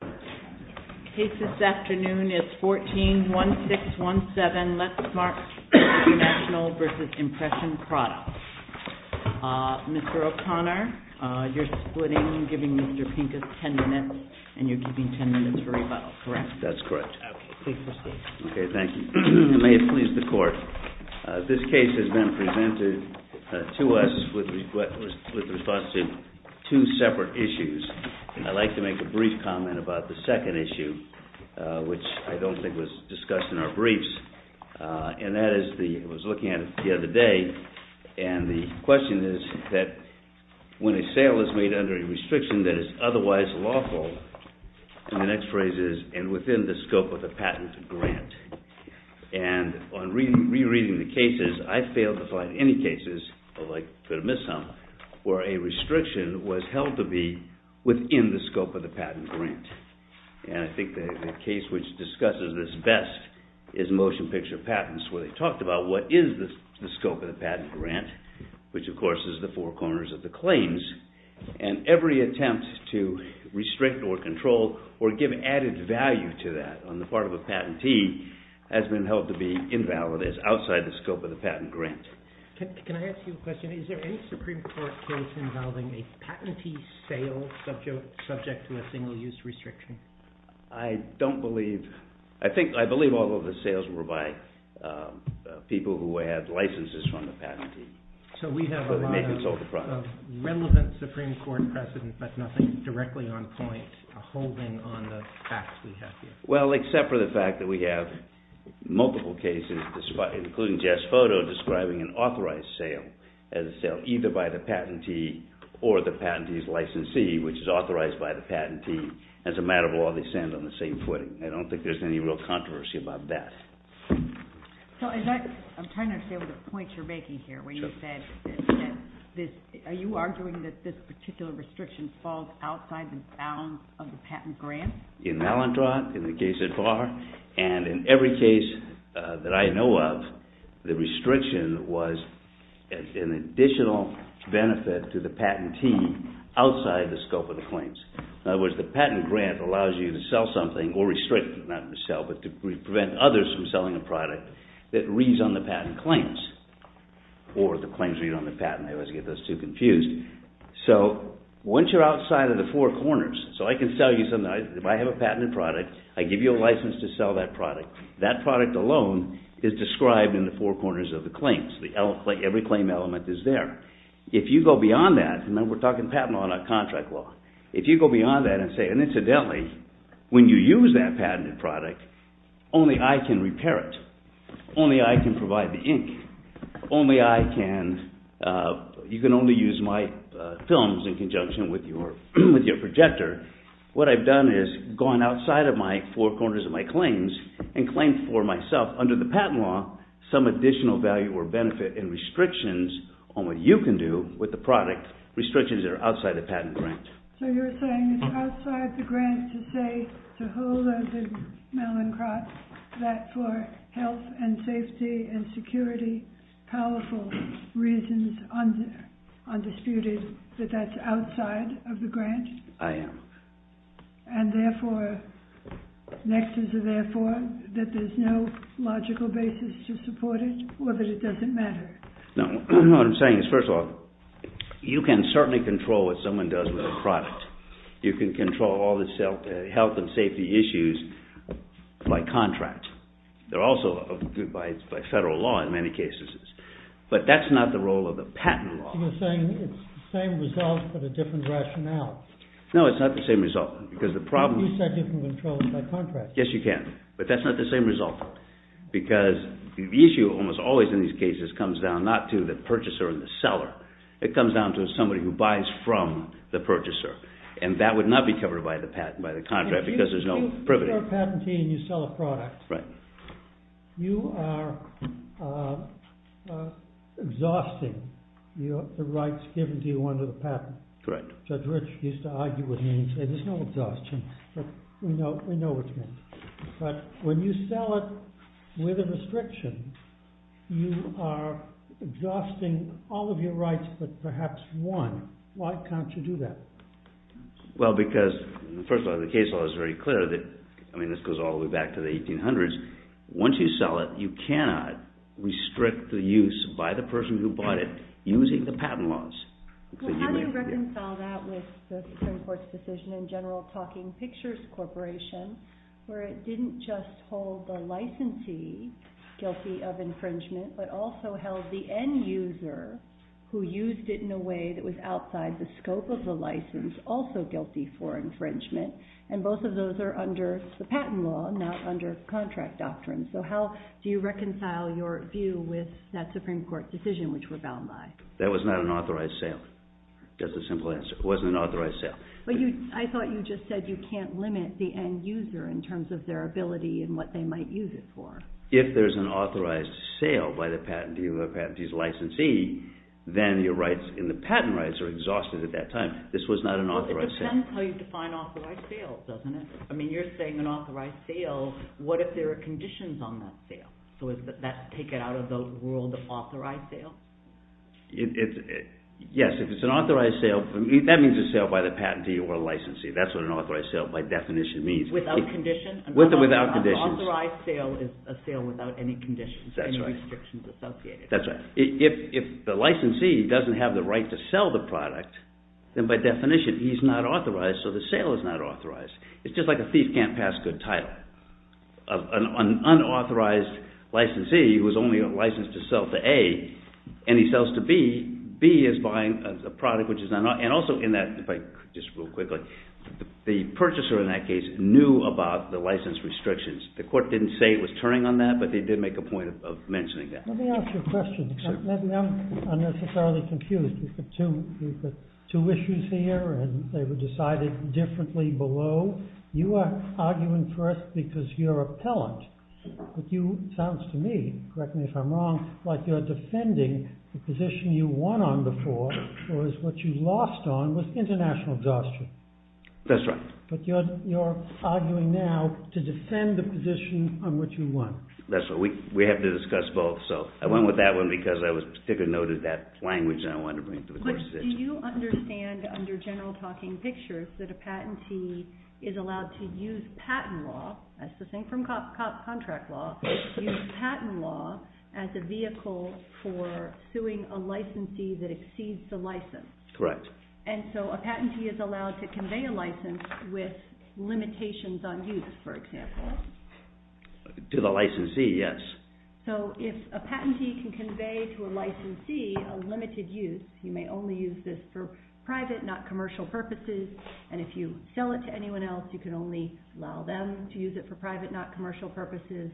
The case this afternoon is 14-1617 Letzmark International v. Impression Products. Mr. O'Connor, you're splitting, giving Mr. Pincus ten minutes, and you're giving ten minutes for rebuttal, correct? That's correct. Okay, please proceed. Okay, thank you. May it please the Court. This case has been presented to us with respect to two separate issues. I'd like to make a brief comment about the second issue, which I don't think was discussed in our briefs. And that is, I was looking at it the other day, and the question is that when a sale is made under a restriction that is otherwise lawful, and the next phrase is, and within the scope of a patent grant, and on rereading the cases, I failed to find any cases, although I could have missed some, where a restriction was held to be within the scope of the patent grant. And I think the case which discusses this best is Motion Picture Patents, where they talked about what is the scope of the patent grant, which, of course, is the four corners of the claims. And every attempt to restrict or control or give added value to that on the part of a patentee has been held to be invalid, is outside the scope of the patent grant. Next. Can I ask you a question? Is there any Supreme Court case involving a patentee sale subject to a single-use restriction? I don't believe – I think – I believe all of the sales were by people who had licenses from the patentee. So we have a lot of relevant Supreme Court precedent, but nothing directly on point or holding on the facts we have here. Well, except for the fact that we have multiple cases, including Jeff's photo, describing an authorized sale, as a sale either by the patentee or the patentee's licensee, which is authorized by the patentee. As a matter of law, they stand on the same footing. I don't think there's any real controversy about that. So is that – I'm trying to get to the point you're making here, where you said this – are you arguing that this particular restriction falls outside the bounds of the patent grant? In Mallinckrodt, in the case at Barr, and in every case that I know of, the restriction was an additional benefit to the patentee outside the scope of the claims. In other words, the patent grant allows you to sell something or restrict – not to sell, but to prevent others from selling a product that reads on the patent claims, or the claims read on the patent. I always get those two confused. So once you're outside of the four corners – so I can tell you something. If I have a patented product, I give you a license to sell that product. That product alone is described in the four corners of the claims. Every claim element is there. If you go beyond that – remember, we're talking patent law, not contract law. If you go beyond that and say, and incidentally, when you use that patented product, only I can repair it. Only I can provide the ink. Only I can – you can only use my films in conjunction with your projector. What I've done is gone outside of my four corners of my claims and claimed for myself under the patent law some additional value or benefit in restrictions on what you can do with the product, restrictions that are outside the patent grant. So you're saying it's outside the grant to say to Hull and to Mallinckrodt that for health and safety and security, powerful reasons, undisputed, that that's outside of the grant? I am. And therefore, nexus of therefore, that there's no logical basis to support it, or that it doesn't matter? No, I don't know what I'm saying. First of all, you can certainly control what someone does with a product. You can control all the health and safety issues by contract. They're also by federal law in many cases. But that's not the role of the patent law. You're saying it's the same result but a different rationale. No, it's not the same result. Because the problem is – You said you can control it by contract. Yes, you can. But that's not the same result. Because the issue almost always in these cases comes down not to the purchaser and the seller. It comes down to somebody who buys from the purchaser. And that would not be covered by the patent, by the contract, because there's no privilege. You're a patentee and you sell a product. Right. You are exhausting the rights given to you under the patent. Right. Judge Rich used to argue with me and say, there's no exhausting. We know what you mean. But when you sell it with a restriction, you are exhausting all of your rights but perhaps one. Why can't you do that? Well, because, first of all, the case law is very clear. I mean, this goes all the way back to the 1800s. Once you sell it, you cannot restrict the use by the person who bought it using the patent laws. Well, how do you reconcile that with the Supreme Court's decision in general of Talking Pictures Corporation, where it didn't just hold the licensee guilty of infringement, but also held the end user, who used it in a way that was outside the scope of the license, also guilty for infringement? And both of those are under the patent law, not under contract doctrine. So how do you reconcile your view with that Supreme Court decision, which was bound by? That was not an authorized sale. That's a simple answer. It wasn't an authorized sale. I thought you just said you can't limit the end user in terms of their ability and what they might use it for. If there's an authorized sale by the patent dealer, perhaps he's a licensee, then your rights in the patent rights are exhausted at that time. This was not an authorized sale. Well, it depends how you define authorized sales, doesn't it? I mean, you're saying an authorized sale. What if there are conditions on that sale? So would that take it out of the world of authorized sales? Yes. If it's an authorized sale, that means it's a sale by the patent dealer or the licensee. That's what an authorized sale by definition means. Without conditions? With or without conditions. An authorized sale is a sale without any conditions, any restrictions associated. That's right. If the licensee doesn't have the right to sell the product, then by definition he's not authorized, so the sale is not authorized. It's just like a thief can't pass a good title. An unauthorized licensee who is only licensed to sell to A, and he sells to B, B is buying a product which is unauthorized. And also in that, just real quickly, the purchaser in that case knew about the license restrictions. The court didn't say it was turning on that, but they did make a point of mentioning that. Let me ask you a question. Maybe I'm unnecessarily confused. You've got two issues here, and they were decided differently below. You are arguing first because you're a pellant. It sounds to me, correct me if I'm wrong, like you're defending the position you won on before, whereas what you lost on was international exhaustion. That's right. But you're arguing now to defend the position on which you won. That's right. We had to discuss both, so I went with that one because I was particularly noted that language I wanted to bring forth. But do you understand under general talking pictures that a patentee is allowed to use patent law, that's the same from contract law, use patent law as a vehicle for suing a licensee that exceeds the license? Correct. And so a patentee is allowed to convey a license with limitations on use, for example. To the licensee, yes. So if a patentee can convey to a licensee a limited use, you may only use this for private, not commercial purposes, and if you sell it to anyone else, you can only allow them to use it for private, not commercial purposes.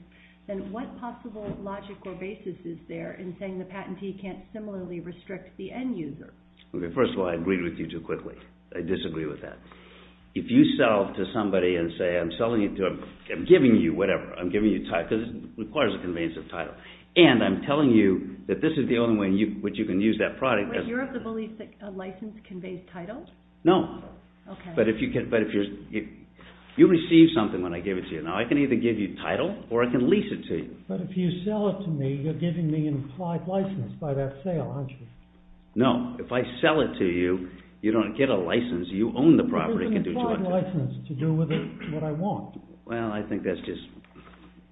Then what possible logic or basis is there in saying the patentee can't similarly restrict the end user? First of all, I agreed with you too quickly. I disagree with that. If you sell to somebody and say, I'm giving you whatever, I'm giving you time, because it requires a conveyance of title. And I'm telling you that this is the only way in which you can use that product. But you're of the belief that a license conveys title? No. Okay. But if you receive something when I give it to you, now I can either give you title or I can lease it to you. But if you sell it to me, you're giving me an implied license by that sale, aren't you? No. If I sell it to you, you don't get a license. You own the property. It's an implied license to do with it what I want. Well, I think that's just,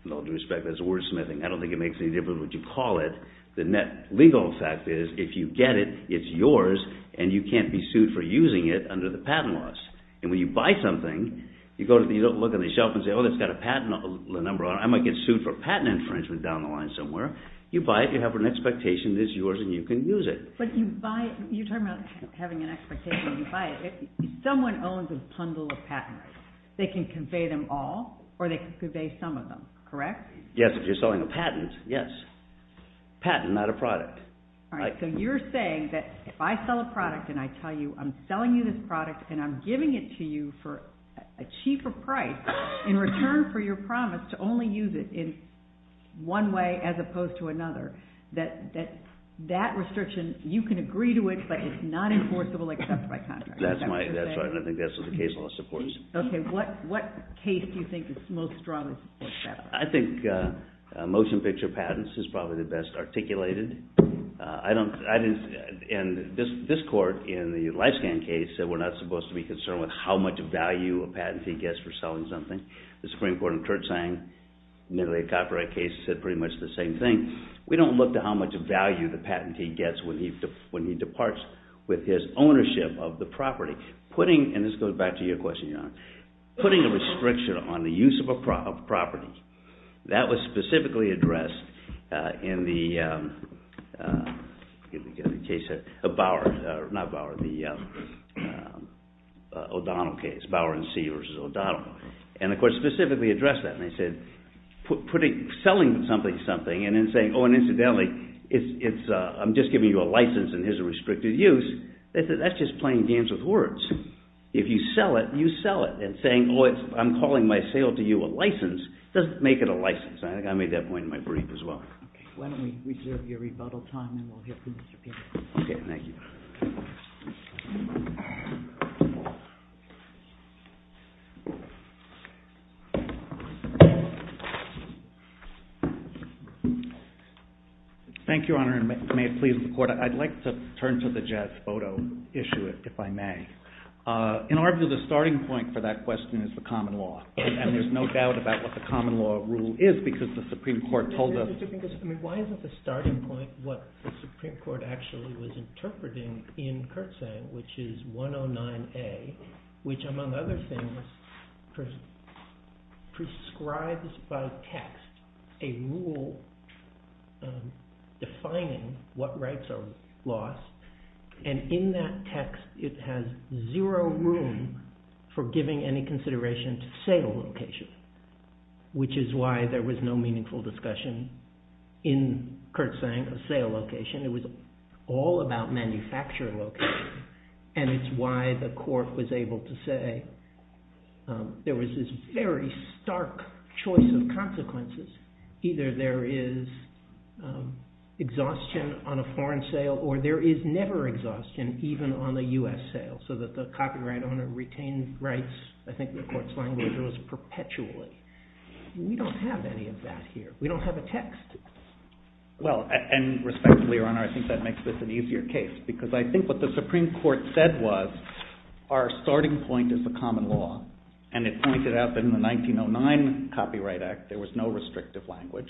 with all due respect, that's wordsmithing. I don't think it makes any difference what you call it. The legal fact is, if you get it, it's yours, and you can't be sued for using it under the patent laws. And when you buy something, you look on the shelf and say, oh, it's got a patent number on it. I might get sued for patent infringement down the line somewhere. You buy it. You have an expectation that it's yours and you can use it. But you buy it. You're talking about having an expectation. You buy it. Someone owns a bundle of patents. They can convey them all or they can convey some of them, correct? Yes, if you're selling a patent, yes. Patent, not a product. All right, so you're saying that if I sell a product and I tell you I'm selling you this product and I'm giving it to you for a cheaper price in return for your promise to only use it in one way as opposed to another, that that restriction, you can agree to it, but it's not enforceable except by contract. That's right. I think that's what the case law supports. Okay, what case do you think is most strongly in support of that? I think motion picture patents is probably the best articulated. And this court in the LifeScan case said we're not supposed to be concerned with how much value a patentee gets for selling something. The Supreme Court in Kurtz's copyright case said pretty much the same thing. We don't look to how much value the patentee gets when he departs with his ownership of the property. And this goes back to your question, Your Honor. Putting a restriction on the use of a property, that was specifically addressed in the case of Bowers, not Bowers, the O'Donnell case, Bowers v. O'Donnell. And the court specifically addressed that. They said selling something is something, and then saying, oh, and incidentally, I'm just giving you a license and there's a restricted use. That's just playing games with words. If you sell it, you sell it. And saying, oh, I'm calling my sale to you a license, doesn't make it a license. I think I made that point in my brief as well. Why don't we reserve your rebuttal time and we'll hear from you again. Okay, thank you. Thank you, Your Honor, and may it please the Court. I'd like to turn to the jazz photo issue, if I may. In art, the starting point for that question is the common law, and there's no doubt about what the common law rule is because the Supreme Court told us. Why isn't the starting point what the Supreme Court actually was interpreting in Kurtz's saying, which is 109A, which, among other things, prescribes by text a rule defining what rights are lost. And in that text, it has zero room for giving any consideration to sale location, which is why there was no meaningful discussion in Kurtz's saying of sale location. It was all about manufacture location, and it's why the Court was able to say there was this very stark choice of consequences. Either there is exhaustion on a foreign sale, or there is never exhaustion, even on a U.S. sale, so that the copyright owner retains rights, I think the Court's language was perpetually. We don't have any of that here. We don't have a text. Well, and respectfully, Your Honor, I think that makes this an easier case because I think what the Supreme Court said was our starting point is the common law, and it pointed out that in the 1909 Copyright Act, there was no restrictive language,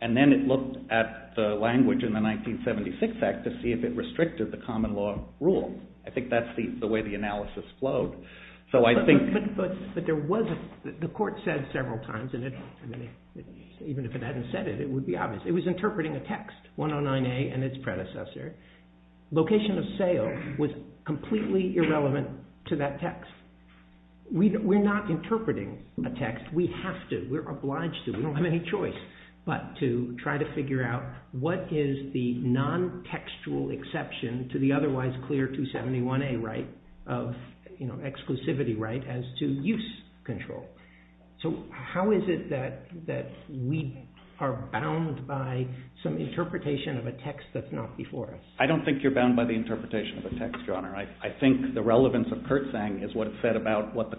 and then it looked at the language in the 1976 Act to see if it restricted the common law rule. I think that's the way the analysis flowed. But the Court said several times, and even if it hadn't said it, it would be obvious. It was interpreting a text, 109A and its predecessor. Location of sale was completely irrelevant to that text. We're not interpreting a text. We have to. We're obliged to. We don't have any choice but to try to figure out what is the non-textual exception to the otherwise clear 271A right of exclusivity right as to use control. So how is it that we are bound by some interpretation of a text that's not before us? I don't think you're bound by the interpretation of a text, Your Honor. I think the relevance of Kurtzang is what it said about what the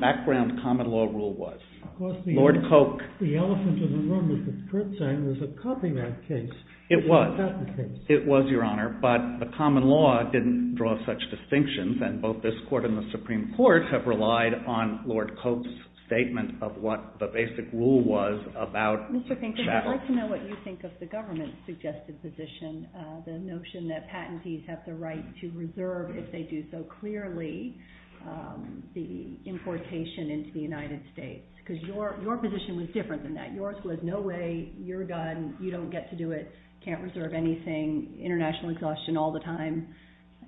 background common law rule was. Of course, the elephant in the room was that Kurtzang was a copyright case. It was. It was, Your Honor. But the common law didn't draw such distinctions, and both this Court and the Supreme Court have relied on Lord Cope's statement of what the basic rule was about chattel. Mr. Pinkerton, I'd like to know what you think of the government's suggested position, the notion that patentees have the right to reserve, if they do so clearly, the importation into the United States. Because your position was different than that. Yours was, no way, you're done, you don't get to do it, can't reserve anything, international exhaustion all the time.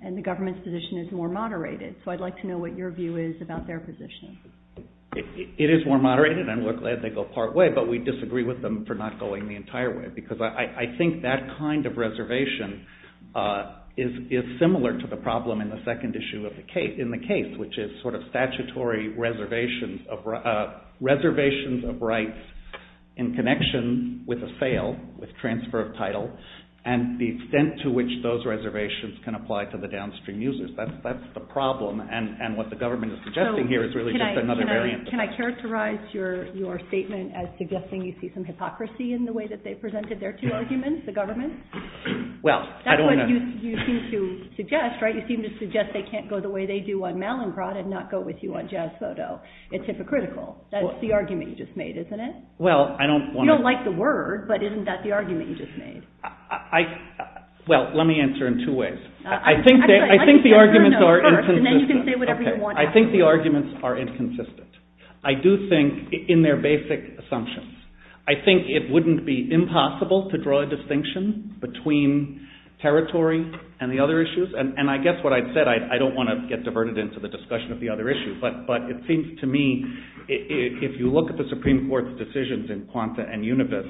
And the government's position is more moderated. So I'd like to know what your view is about their position. It is more moderated, and we're glad they go part way, but we disagree with them for not going the entire way. Because I think that kind of reservation is similar to the problem in the second issue of the case, which is sort of statutory reservations of rights in connection with a fail, with transfer of title, and the extent to which those reservations can apply to the downstream users. That's the problem, and what the government is suggesting here is really just another variant. Can I characterize your statement as suggesting you speak from hypocrisy in the way that they presented their two arguments, the government? Well, I don't want to... That's what you seem to suggest, right? I would not go with you on Mallinckrodt, I'd not go with you on Jasphoto. It's hypocritical. That's the argument you just made, isn't it? Well, I don't want to... You don't like the word, but isn't that the argument you just made? Well, let me answer in two ways. I think the arguments are inconsistent. I think the arguments are inconsistent. I do think, in their basic assumptions, I think it wouldn't be impossible to draw a distinction between territory and the other issues, and I guess what I said, I don't want to get diverted into the discussion of the other issues, but it seems to me, if you look at the Supreme Court's decisions in Quanta and Univis,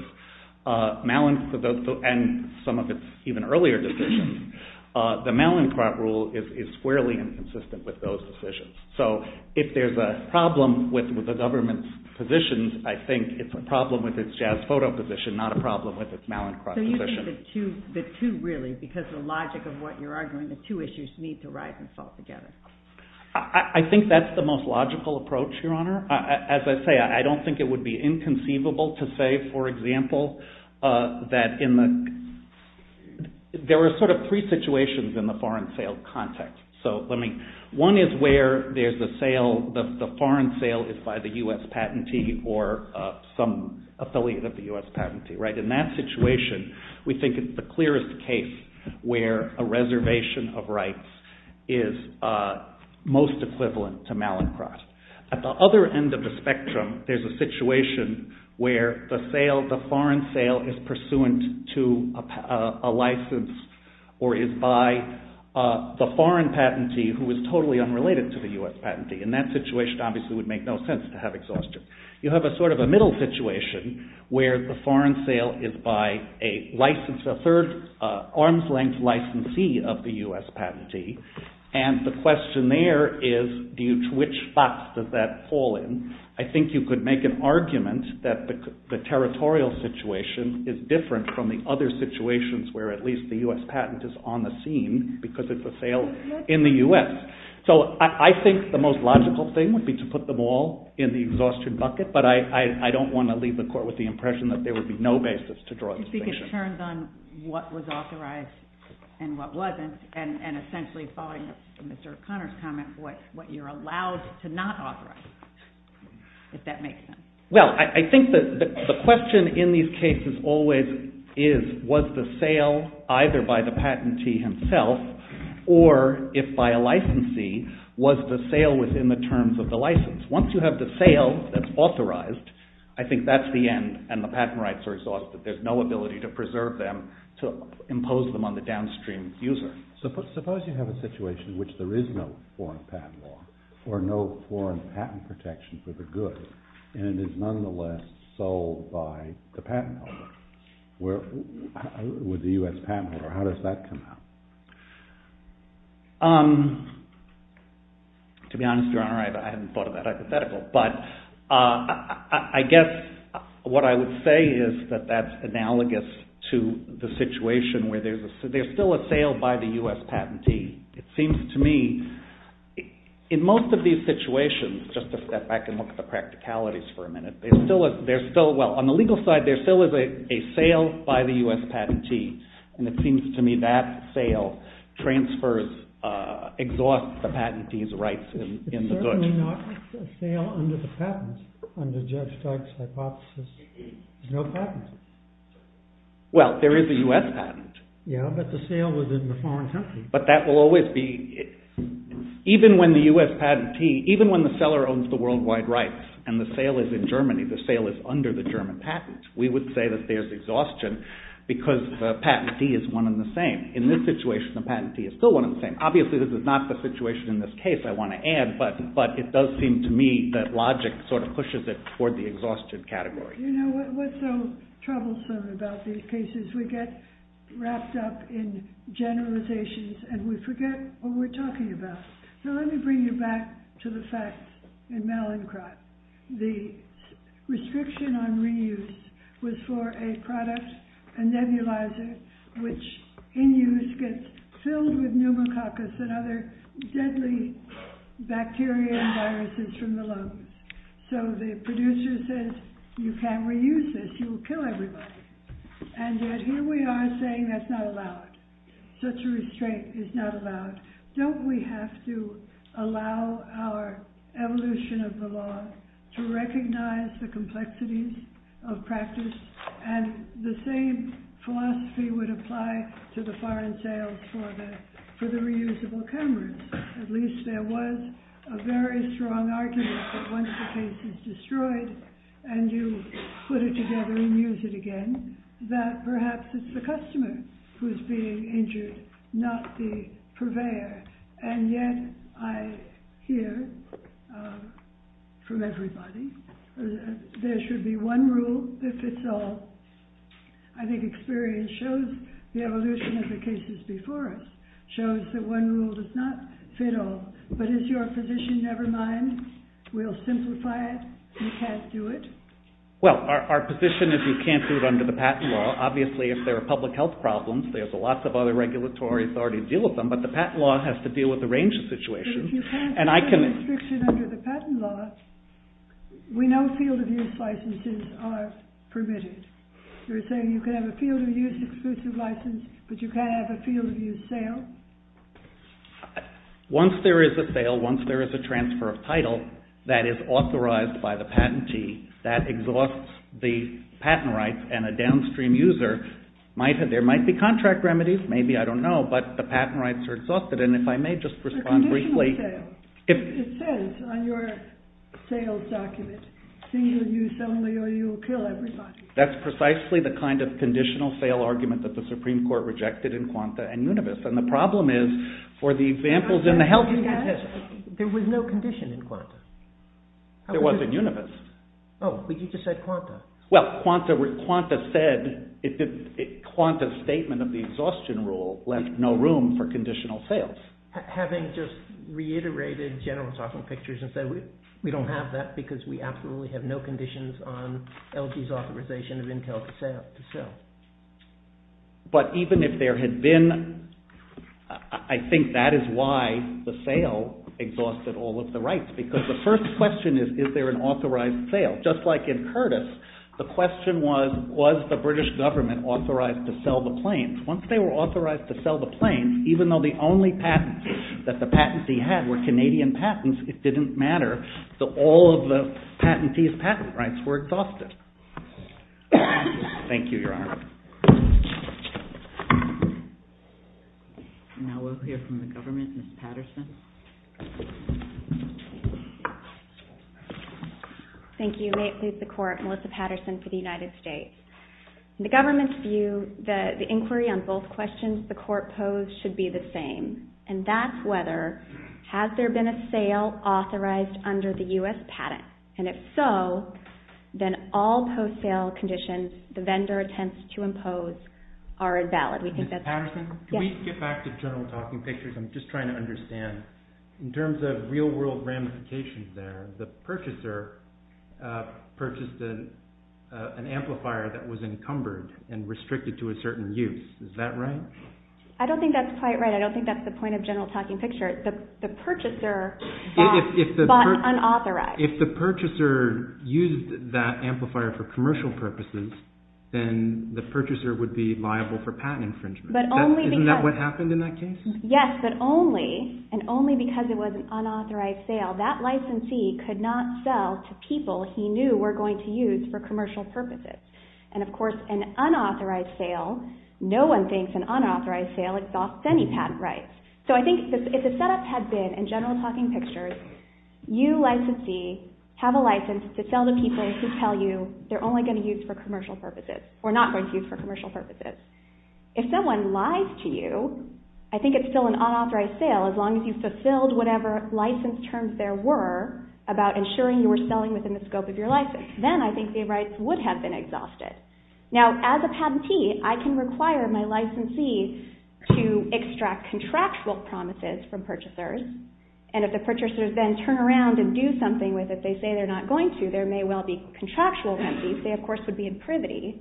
Mallinckrodt and some of its even earlier decisions, the Mallinckrodt rule is squarely inconsistent with those decisions. So, if there's a problem with the government's positions, I think it's a problem with its Jasphoto position, not a problem with its Mallinckrodt position. So, you think the two, really, because the logic of what you're arguing, the two issues need to rise and fall together. I think that's the most logical approach, Your Honor. As I say, I don't think it would be inconceivable to say, for example, that in the... There are sort of three situations in the foreign sale context. So, let me... One is where there's the sale, the foreign sale is by the U.S. patentee or some affiliate of the U.S. patentee, right? In that situation, we think it's the clearest case where a reservation of rights is most equivalent to Mallinckrodt. At the other end of the spectrum, there's a situation where the sale, the foreign sale is pursuant to a license or is by the foreign patentee who is totally unrelated to the U.S. patentee. In that situation, obviously, it would make no sense to have exhaustion. You have a sort of a middle situation where the foreign sale is by a third arm's length licensee of the U.S. patentee and the question there is, which box does that fall in? I think you could make an argument that the territorial situation is different from the other situations where at least the U.S. patent is on the scene because it's a sale in the U.S. So I think the most logical thing would be to put them all in the exhaustion bucket, but I don't want to leave the court with the impression that there would be no basis to draw the distinction. If you could turn on what was authorized and what wasn't and essentially following Mr. O'Connor's comment, what you're allowed to not authorize, if that makes sense. Well, I think the question in these cases always is, was the sale either by the patentee himself or if by a licensee, was the sale within the terms of the license? Once you have the sale that's authorized, I think that's the end and the patent rights are exhausted. There's no ability to preserve them, to impose them on the downstream user. Suppose you have a situation in which there is no foreign patent law or no foreign patent protection for the good and it is nonetheless sold by the patent holder with the U.S. patent holder. How does that come out? To be honest, Your Honor, I haven't thought of that hypothetical, but I guess what I would say is that that's analogous to the situation where there's still a sale by the U.S. patentee. It seems to me, in most of these situations, just to step back and look at the practicalities for a minute, there's still, well, on the legal side, there still is a sale by the U.S. patentee and it seems to me that sale transfers, exhausts the patentee's rights in the good. It's certainly not a sale under the patents, under Jeff Stark's hypothesis. There's no patents. Well, there is a U.S. patent. Yeah, but the sale was in a foreign country. But that will always be, even when the U.S. patentee, even when the seller owns the worldwide rights and the sale is in Germany, the sale is under the German patents, we would say that there's exhaustion because the patentee is one and the same. In this situation, the patentee is still one and the same. Obviously, this is not the situation in this case, I want to add, but it does seem to me that logic sort of pushes it toward the exhaustion category. You know what's so troublesome about these cases? We get wrapped up in generalizations and we forget what we're talking about. So let me bring you back to the fact in Mallinckrodt. The restriction on reuse was for a product, a nebulizer, which in use gets filled with pneumococcus and other deadly bacteria and viruses from the lungs. So the producer says, you can't reuse this, you will kill everybody. And here we are saying that's not allowed. Such a restraint is not allowed. Don't we have to allow our evolution of the law to recognize the complexities of practice and the same philosophy would apply to the foreign sales for the reusable chemicals. At least there was a very strong argument that once the case is destroyed and you put it together and use it again, that perhaps it's the customer who's being injured, not the purveyor. And yet I hear from everybody there should be one rule that fits all. I think experience shows the evolution of the cases before us, shows that one rule does not fit all. But is your position, never mind, we'll simplify it, you can't do it? Well, our position is you can't do it under the patent law. Obviously, if there are public health problems, there's lots of other regulatory authorities that deal with them, but the patent law has to deal with the range of situations. But if you can't have a restriction under the patent law, we know field of use licenses are permitted. You're saying you can have a field of use exclusive license, but you can't have a field of use sale? Once there is a sale, once there is a transfer of title that is authorized by the patentee, that exhausts the patent rights and a downstream user, there might be contract remedies, maybe, I don't know, but the patent rights are exhausted. And if I may just respond briefly. It says on your sales document, single use only or you will kill everybody. That's precisely the kind of conditional sale argument that the Supreme Court rejected in Quanta and Univis. And the problem is, for the examples in the health... There was no condition in Quanta. There wasn't in Univis. Oh, did you just say Quanta? Well, Quanta said... Quanta's statement of the exhaustion rule left no room for conditional sales. Having just reiterated General Software Pictures and said, we don't have that because we absolutely have no conditions on LG's authorization of Intel to sell. But even if there had been... I think that is why the sale exhausted all of the rights, because the first question is, is there an authorized sale? Just like in Curtis, the question was, was the British government authorized to sell the planes? Once they were authorized to sell the planes, even though the only patents that the patentee had were Canadian patents, it didn't matter. So all of the patentee's patent rights were exhausted. Thank you, Your Honor. We'll hear from the government, Ms. Patterson. Thank you. May it please the Court. Melissa Patterson for the United States. In the government's view, the inquiry on both questions the Court posed should be the same. And that's whether, has there been a sale authorized under the U.S. patent? And if so, then all post-sale conditions the vendor attempts to impose are invalid. Ms. Patterson, can we get back to General Software Pictures? I'm just trying to understand. In terms of real-world ramifications there, the purchaser purchased an amplifier that was encumbered and restricted to a certain use. Is that right? I don't think that's quite right. I don't think that's the point of General Software Pictures. The purchaser bought unauthorized. If the purchaser used that amplifier for commercial purposes, then the purchaser would be liable for patent infringement. Isn't that what happened in that case? Yes, but only, and only because it was an unauthorized sale, that licensee could not sell to people he knew were going to use for commercial purposes. And, of course, an unauthorized sale, no one thinks an unauthorized sale exhausts any patent rights. So I think if the setup had been in General Software Pictures, you licensee have a license to sell to people who tell you they're only going to use for commercial purposes or not going to use for commercial purposes. If someone lies to you, I think it's still an unauthorized sale, as long as you fulfilled whatever license terms there were about ensuring you were selling within the scope of your license. Then I think the rights would have been exhausted. Now, as a patentee, I can require my licensee to extract contractual promises from purchasers, and if the purchasers then turn around and do something with it, they say they're not going to, there may well be contractual penalties. They, of course, would be in privity.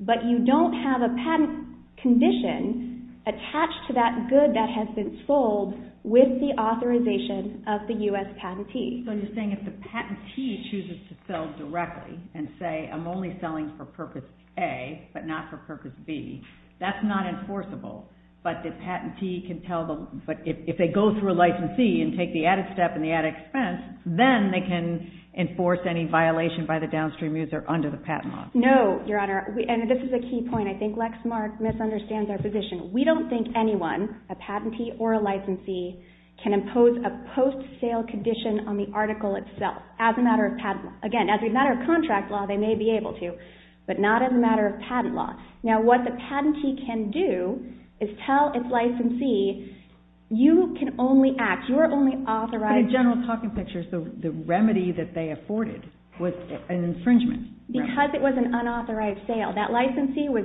But you don't have a patent condition attached to that good that has been sold with the authorization of the U.S. patentee. So you're saying if the patentee chooses to sell directly and say, I'm only selling for Purpose A but not for Purpose B, that's not enforceable. But the patentee can tell them, but if they go through a licensee and take the added step and the added expense, then they can enforce any violation by the downstream user under the patent law. No, Your Honor. And this is a key point. I think Lex Mark misunderstands our position. We don't think anyone, a patentee or a licensee, can impose a post-sale condition on the article itself as a matter of patent. Again, as a matter of contract law, they may be able to, but not as a matter of patent law. Now, what the patentee can do is tell its licensee, you can only act. You're only authorized. But in general talking pictures, the remedy that they afforded was an infringement. Because it was an unauthorized sale, that licensee was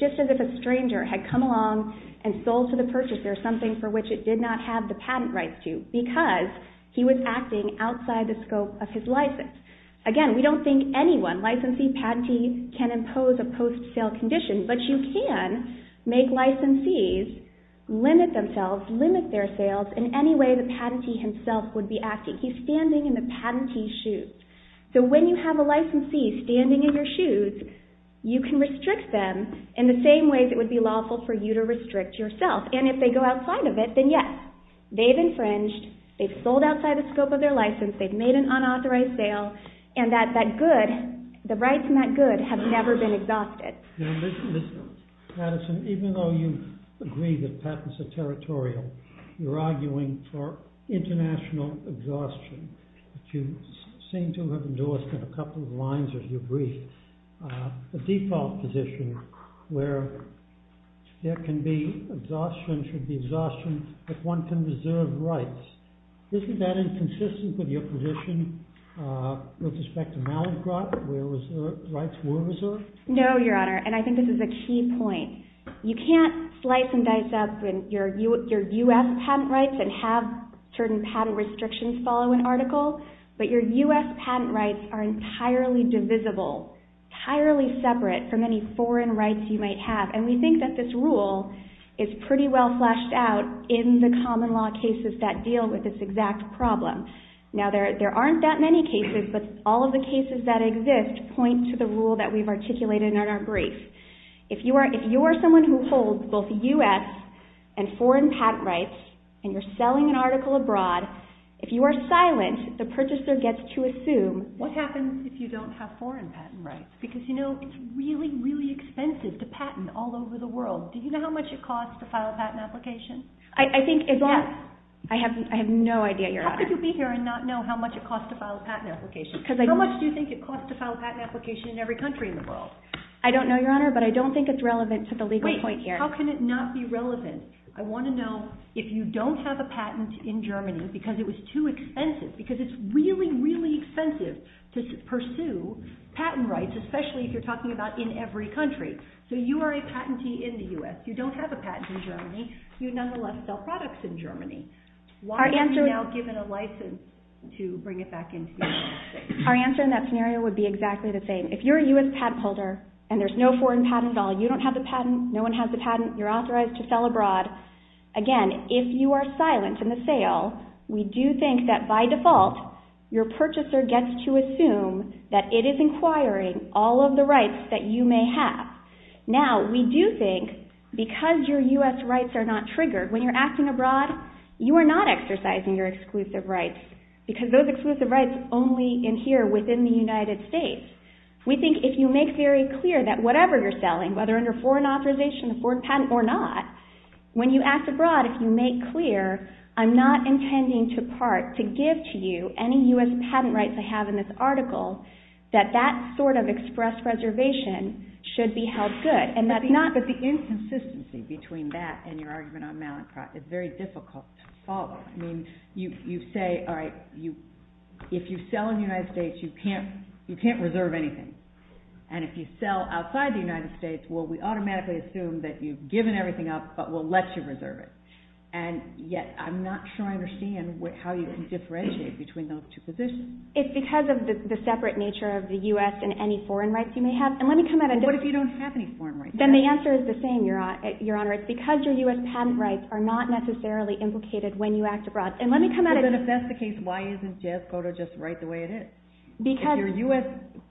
just as if a stranger had come along and sold to the purchaser something for which it did not have the patent rights to because he was acting outside the scope of his license. Again, we don't think anyone, licensee, patentee, can impose a post-sale condition, but you can make licensees limit themselves, limit their sales in any way the patentee himself would be acting. He's standing in the patentee's shoes. So when you have a licensee standing in your shoes, you can restrict them in the same way that would be lawful for you to restrict yourself. And if they go outside of it, then yes, they've infringed, they've sold outside the scope of their license, they've made an unauthorized sale, and that good, the rights in that good have never been exhausted. Now listen, Madison, even though you agree that patents are territorial, you're arguing for international exhaustion. You seem to have endorsed a couple of lines of your brief. The default position where there can be exhaustion, there should be exhaustion if one can reserve rights. Isn't that inconsistent with your position with respect to Malabar where rights were reserved? No, Your Honor, and I think this is a key point. You can't slice and dice up your U.S. patent rights and have certain patent restrictions follow an article, but your U.S. patent rights are entirely divisible, entirely separate from any foreign rights you might have. And we think that this rule is pretty well fleshed out in the common law cases that deal with this exact problem. Now there aren't that many cases, but all of the cases that exist point to the rule that we've articulated in our brief. If you are someone who holds both U.S. and foreign patent rights and you're selling an article abroad, if you are silent, the purchaser gets to assume... What happens if you don't have foreign patent rights? Because, you know, it's really, really expensive to patent all over the world. Do you know how much it costs to file a patent application? How could you be here and not know how much it costs to file a patent application? How much do you think it costs to file a patent application in every country in the world? I don't know, Your Honor, but I don't think it's relevant to the legal point here. How can it not be relevant? I want to know if you don't have a patent in Germany because it was too expensive, because it's really, really expensive to pursue patent rights, especially if you're talking about in every country. So you are a patentee in the U.S. You don't have a patent in Germany. You nonetheless sell products in Germany. Why aren't you now given a license to bring it back into the U.S.? Our answer in that scenario would be exactly the same. If you're a U.S. patent holder and there's no foreign patent at all, you don't have the patent, no one has the patent, you're authorized to sell abroad, again, if you are silent in the sale, we do think that by default, your purchaser gets to assume that it is inquiring all of the rights that you may have. Now, we do think, because your U.S. rights are not triggered, when you're acting abroad, you are not exercising your exclusive rights because those exclusive rights only adhere within the United States. We think if you make very clear that whatever you're selling, whether under foreign authorization, foreign patent or not, when you act abroad, if you make clear, I'm not intending to part to give to you any U.S. patent rights I have in this article, that that sort of express reservation should be held good. But the inconsistency between that and your argument on Mallinckrodt is very difficult to follow. I mean, you say, all right, if you sell in the United States, you can't reserve anything. And if you sell outside the United States, well, we automatically assume that you've given everything up, but we'll let you reserve it. And yet, I'm not sure I understand how you can differentiate between those two positions. It's because of the separate nature of the U.S. and any foreign rights you may have. And let me come at it. What if you don't have any foreign rights? Then the answer is the same, Your Honor. It's because your U.S. patent rights are not necessarily implicated when you act abroad. And let me come at it. But if that's the case, why isn't Jeff Cotto just right the way it is? If your U.S.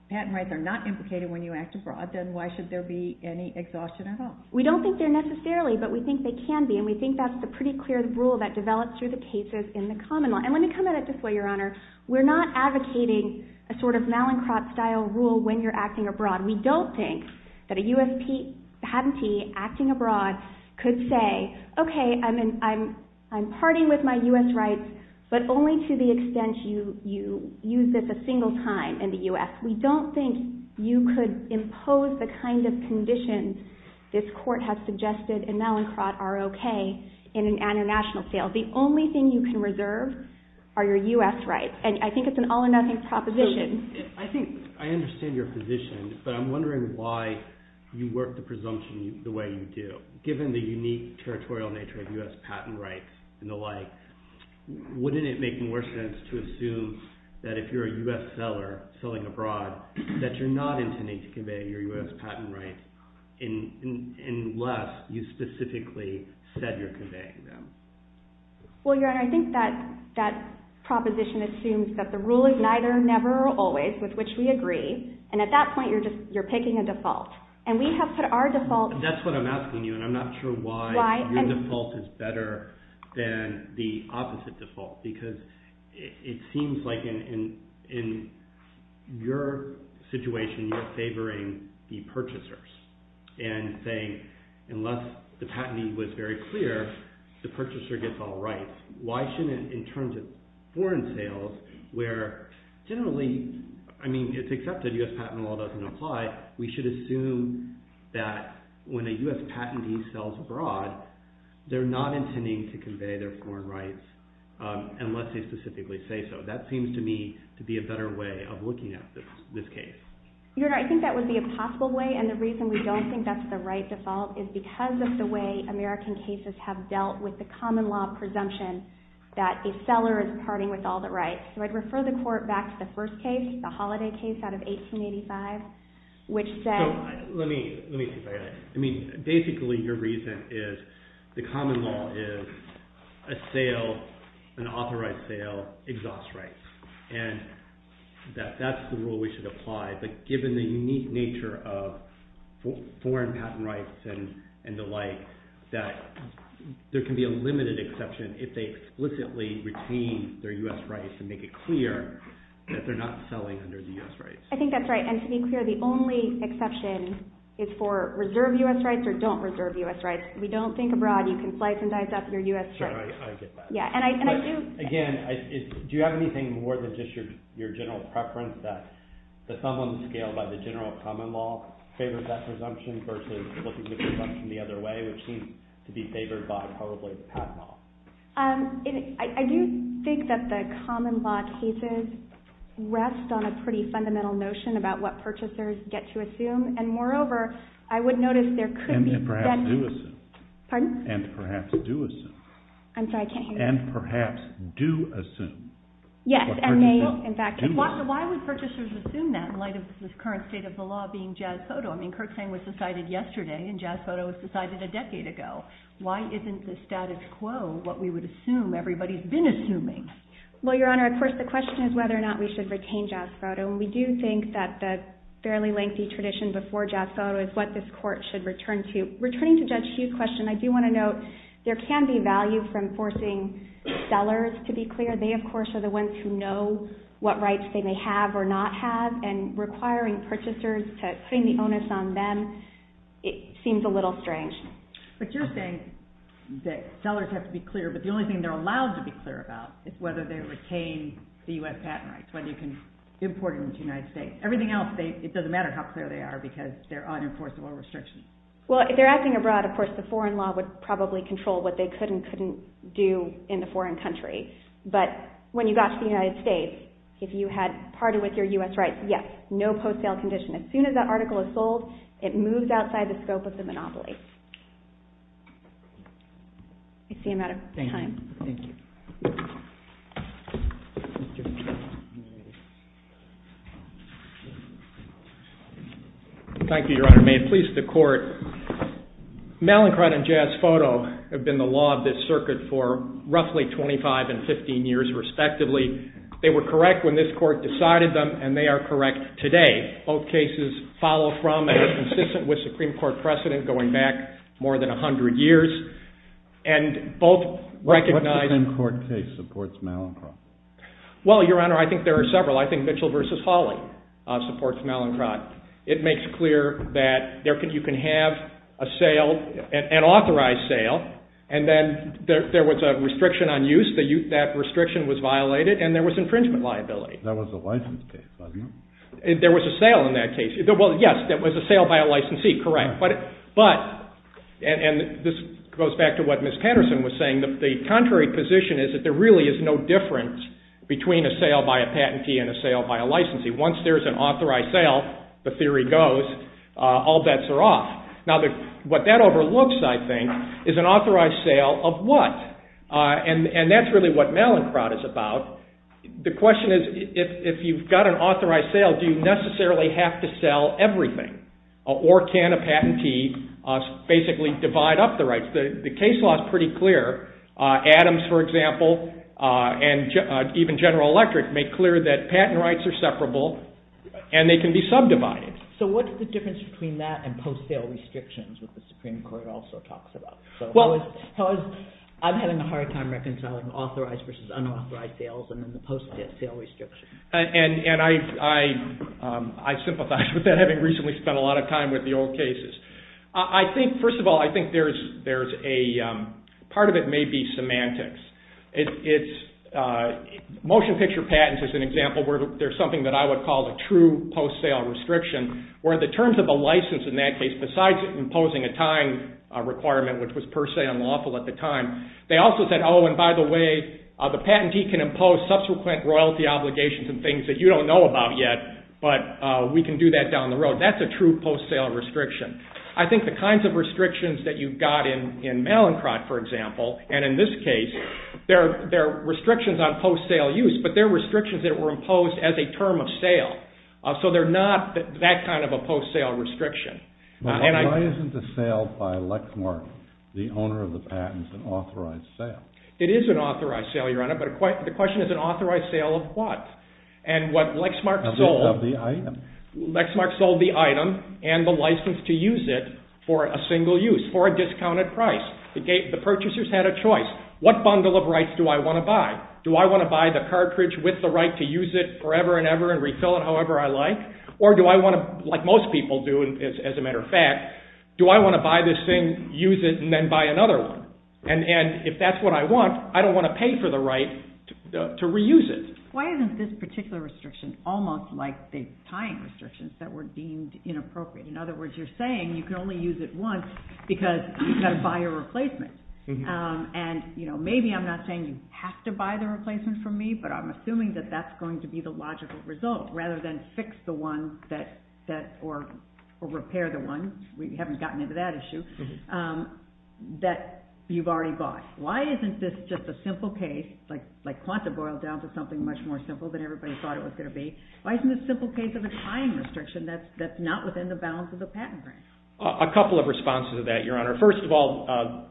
patent rights are not implicated when you act abroad, then why should there be any exhaustion at all? We don't think they're necessarily, but we think they can be. And we think that's a pretty clear rule that develops through the cases in the common law. And let me come at it this way, Your Honor. We're not advocating a sort of Mallinckrodt-style rule when you're acting abroad. We don't think that a U.S. patentee acting abroad could say, okay, I'm partying with my U.S. rights, but only to the extent you use this a single time in the U.S. We don't think you could impose the kind of conditions this court has suggested in Mallinckrodt R.O.K. in an international scale. The only thing you can reserve are your U.S. rights. And I think it's an all-or-nothing proposition. I think I understand your position, but I'm wondering why you work the presumption the way you do. Given the unique territorial nature of U.S. patent rights and the like, wouldn't it make more sense to assume that if you're a U.S. seller selling abroad, that you're not intending to convey your U.S. patent rights unless you specifically said you're conveying them? Well, your Honor, I think that proposition assumes that the rule is neither never or always, with which we agree. And at that point, you're picking a default. And we have put our default... That's what I'm asking you, and I'm not sure why your default is better than the opposite default. Because it seems like in your situation, you're favoring the purchasers. And saying, unless the patenting was very clear, the purchaser gets all rights. Why shouldn't, in terms of foreign sales, where generally... I mean, except the U.S. patent law doesn't apply, we should assume that when a U.S. patenting sells abroad, they're not intending to convey their foreign rights unless they specifically say so. That seems to me to be a better way of looking at this case. Your Honor, I think that would be a possible way, and the reason we don't think that's the right default is because of the way American cases have dealt with the common law presumption that a seller is partying with all the rights. So I'd refer the Court back to the first case, the Holiday case out of 1885, which said... Let me, let me... I mean, basically your reason is the common law is a sale, an authorized sale, exhausts rights. And that's the rule we should apply, but given the unique nature of foreign patent rights and the like, that there can be a limited exception if they explicitly retain their U.S. rights and make it clear that they're not selling under the U.S. rights. I think that's right, and to be clear, the only exception is for reserve U.S. rights or don't reserve U.S. rights. If we don't think abroad, you can slice and dice up your U.S. rights. Sure, I get that. Yeah, and I do... Again, do you have anything more than just your general preference that the sum of the scale by the general common law favors that presumption versus looking at the presumption the other way, which seems to be favored by probably the patent law? I do think that the common law thesis rests on a pretty fundamental notion about what purchasers get to assume, and moreover, I would notice there could be... And perhaps do a... Pardon? And perhaps do a... I'm sorry, I can't hear that. And perhaps do assume. Yes, and may, in fact... So why would purchasers assume that in light of this current state of the law being Jazz Photo? I mean, Kurt Sang was decided yesterday, and Jazz Photo was decided a decade ago. Why isn't the status quo what we would assume everybody's been assuming? Well, Your Honor, of course, the question is whether or not we should retain Jazz Photo, and we do think that the fairly lengthy tradition before Jazz Photo is what this Court should return to. Returning to Judge Heath's question, I do want to note there can be value for enforcing sellers to be clear. They, of course, are the ones who know what rights they may have or not have, and requiring purchasers to bring the onus on them, it seems a little strange. But you're saying that sellers have to be clear, but the only thing they're allowed to be clear about is whether they retain the U.S. patent rights, whether you can import them into the United States. Everything else, it doesn't matter how clear they are because they're unenforceable restrictions. Well, if they're acting abroad, of course, the foreign law would probably control what they could and couldn't do in a foreign country. But when you got to the United States, if you had parted with your U.S. rights, yes, no post-sale condition. As soon as that article is sold, it moves outside the scope of the monopoly. Thank you, Your Honor. May it please the Court. Mallinckrodt and Jazz Photo have been the law of this circuit for roughly 25 and 15 years, respectively. They were correct when this Court decided them, and they are correct today. Both cases follow from and are consistent with Supreme Court precedent going back to the 1960s. What Supreme Court case supports Mallinckrodt? Well, Your Honor, I think there are several. I think Mitchell v. Foley supports Mallinckrodt. It makes clear that you can have an authorized sale, and then there was a restriction on use. That restriction was violated, and there was infringement liability. That was a license case, wasn't it? There was a sale in that case. Well, yes, there was a sale by a licensee, correct. But, and this goes back to what Ms. Patterson was saying, the contrary position is that there really is no difference between a sale by a patentee and a sale by a licensee. Once there's an authorized sale, the theory goes, all bets are off. Now, what that overlooks, I think, is an authorized sale of what? And that's really what Mallinckrodt is about. The question is, if you've got an authorized sale, do you necessarily have to sell everything? Or can a patentee basically divide up the rights? The case law is pretty clear. Adams, for example, and even General Electric, made clear that patent rights are separable, and they can be subdivided. So what's the difference between that and post-sale restrictions, which the Supreme Court also talks about? So I'm having a hard time reconciling authorized versus unauthorized sales and then the post-sale restrictions. And I sympathize with that, having recently spent a lot of time with the old cases. I think, first of all, I think there's a, part of it may be semantics. It's, motion picture patents is an example where there's something that I would call a true post-sale restriction, where the terms of a license, in that case, besides imposing a time requirement, which was per se unlawful at the time, they also said, oh, and by the way, the patentee can impose subsequent royalty obligations and things that you don't know about yet, but we can do that down the road. That's a true post-sale restriction. I think the kinds of restrictions that you've got in Mallinckrodt, for example, and in this case, they're restrictions on post-sale use, but they're restrictions that were imposed as a term of sale. So they're not that kind of a post-sale restriction. Why isn't the sale by Lexmark, the owner of the patent, an authorized sale? It is an authorized sale, Your Honor, but the question is an authorized sale of what? Lexmark sold the item and the license to use it for a single use, for a discounted price. The purchasers had a choice. What bundle of rights do I want to buy? Do I want to buy the cartridge with the right to use it forever and ever and refill it however I like, or do I want to, like most people do, as a matter of fact, do I want to buy this thing, use it, and then buy another one? And if that's what I want, I don't want to pay for the right to reuse it. Why isn't this particular restriction almost like the tying restrictions that were deemed inappropriate? In other words, you're saying you can only use it once because you've got to buy a replacement. And maybe I'm not saying you have to buy the replacement from me, but I'm assuming that that's going to be the logical result rather than fix the one that or repair the one, we haven't gotten into that issue, that you've already bought. Why isn't this just a simple case, like want to boil down to something much more simple than everybody thought it was going to be, why isn't it a simple case of a tying restriction that's not within the balance of the patent agreement? A couple of responses to that, Your Honor. First of all,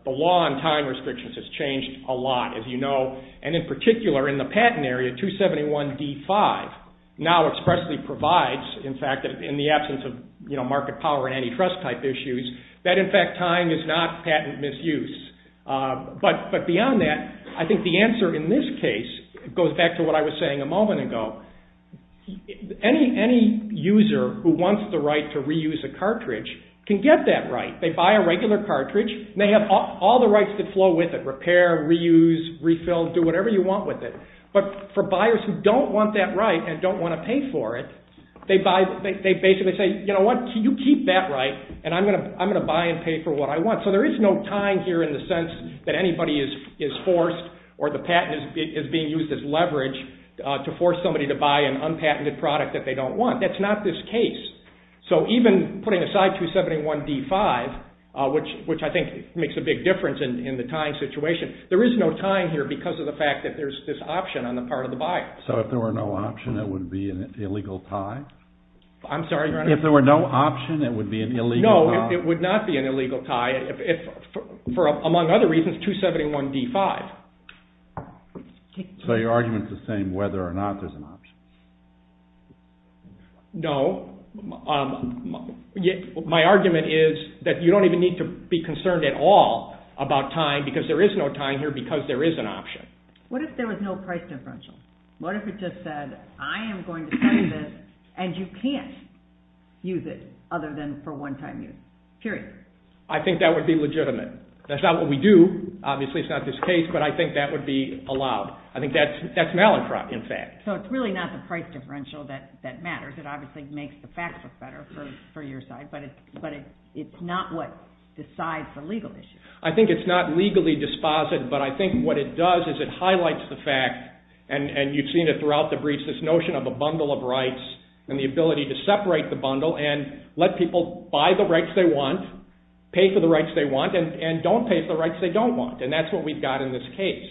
the law on tying restrictions has changed a lot, as you know, and in particular in the patent area, 271D5 now expressly provides, in fact, in the absence of market power and antitrust type issues, that in fact tying is not patent misuse. But beyond that, I think the answer in this case goes back to what I was saying a moment ago. Any user who wants the right to reuse a cartridge can get that right. They buy a regular cartridge, and they have all the rights to flow with it, repair, reuse, refill, do whatever you want with it. But for buyers who don't want that right and don't want to pay for it, they basically say, you know what, you keep that right, and I'm going to buy and pay for what I want. So there is no tying here in the sense that anybody is forced or the patent is being used as leverage to force somebody to buy an unpatented product that they don't want. That's not this case. So even putting aside 271D5, which I think makes a big difference in the tying situation, there is no tying here because of the fact that there's this option on the part of the buyer. So if there were no option, it would be an illegal tie? I'm sorry? If there were no option, it would be an illegal tie? No, it would not be an illegal tie. For among other reasons, 271D5. So your argument is the same whether or not there's an option? No. My argument is that you don't even need to be concerned at all about tying because there is no tying here because there is an option. What if there was no price differential? What if it just said, I am going to sign this, and you can't use it other than for one-time use? Period. I think that would be legitimate. That's not what we do. Obviously, it's not this case, but I think that would be allowed. I think that's malicrous, in fact. So it's really not the price differential that matters. It obviously makes the facts look better for your side, but it's not what decides the legal issue. I think it's not legally dispositive, but I think what it does is it highlights the fact, and you've seen it throughout the briefs, this notion of a bundle of rights and the ability to separate the bundle and let people buy the rights they want, pay for the rights they want, and don't pay for the rights they don't want, and that's what we've got in this case.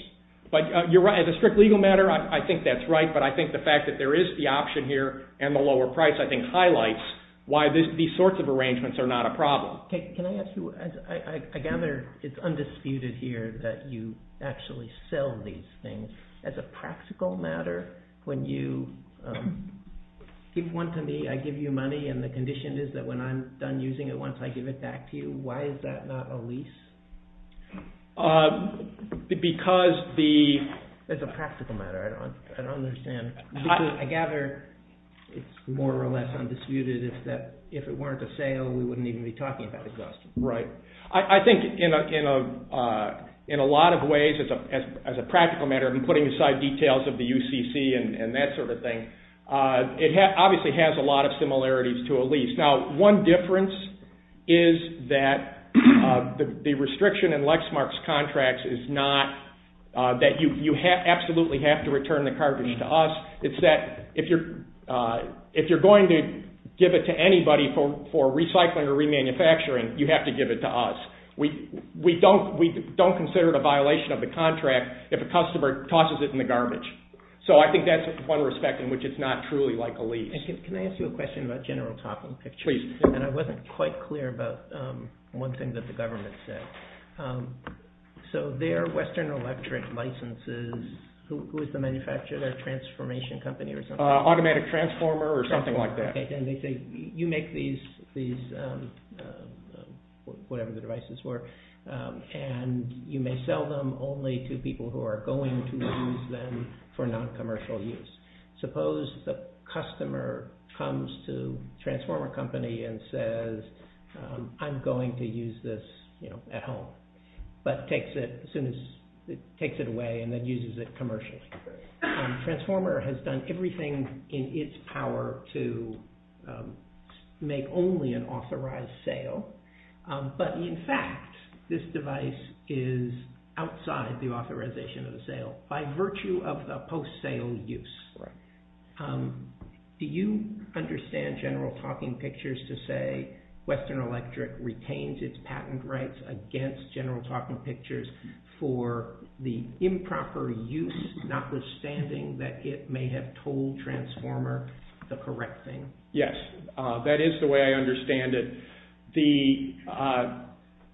As a strict legal matter, I think that's right, but I think the fact that there is the option here and the lower price I think highlights why these sorts of arrangements are not a problem. Can I ask you, I gather it's undisputed here that you actually sell these things. As a practical matter, when you give one to me, I give you money, and the condition is that when I'm done using it, once I give it back to you, why is that not a lease? Because the... As a practical matter, I don't understand. I gather it's more or less undisputed that if it weren't a sale, we wouldn't even be talking about the cost. Right. I think in a lot of ways, as a practical matter, and putting aside details of the UCC and that sort of thing, it obviously has a lot of similarities to a lease. Now, one difference is that the restriction in Lexmark's contracts is not that you absolutely have to return the carpet to us. It's that if you're going to give it to anybody for recycling or remanufacturing, you have to give it to us. We don't consider it a violation of the contract if a customer tosses it in the garbage. So I think that's one respect in which it's not truly like a lease. Can I ask you a question about general topic pictures? Please. I wasn't quite clear about one thing that the government said. So their Western Electric licenses, who is the manufacturer, their transformation company or something? Automatic Transformer or something like that. And they say, you make these, whatever the devices were, and you may sell them only to people who are going to use them for non-commercial use. Suppose the customer comes to the transformer company and says, I'm going to use this at home. But takes it away and then uses it commercially. Transformer has done everything in its power to make only an authorized sale. But in fact, this device is outside the authorization of the sale. By virtue of a post-sale use, do you understand general talking pictures to say Western Electric retains its patent rights against general talking pictures for the improper use, not withstanding that it may have told Transformer the correct thing? Yes. That is the way I understand it.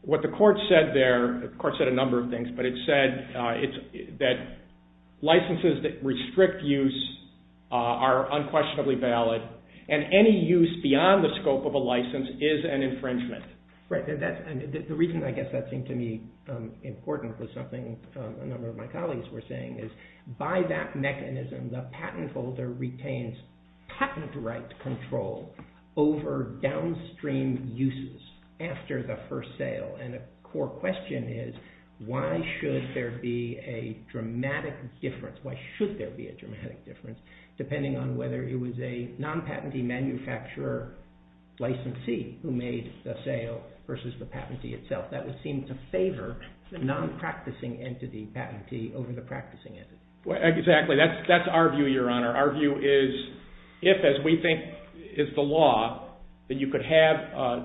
What the court said there, the court said a number of things, but it said that licenses that restrict use are unquestionably valid and any use beyond the scope of a license is an infringement. Right. The reason I guess that seemed to me important was something a number of my colleagues were saying, is by that mechanism, the patent holder retains patent rights control over downstream uses after the first sale. And a core question is why should there be a dramatic difference, why should there be a dramatic difference, depending on whether it was a non-patentee manufacturer licensee who made the sale versus the patentee itself. That would seem to favor the non-practicing entity patentee over the practicing entity. Exactly. That's our view, Your Honor. Our view is if, as we think is the law, that you could have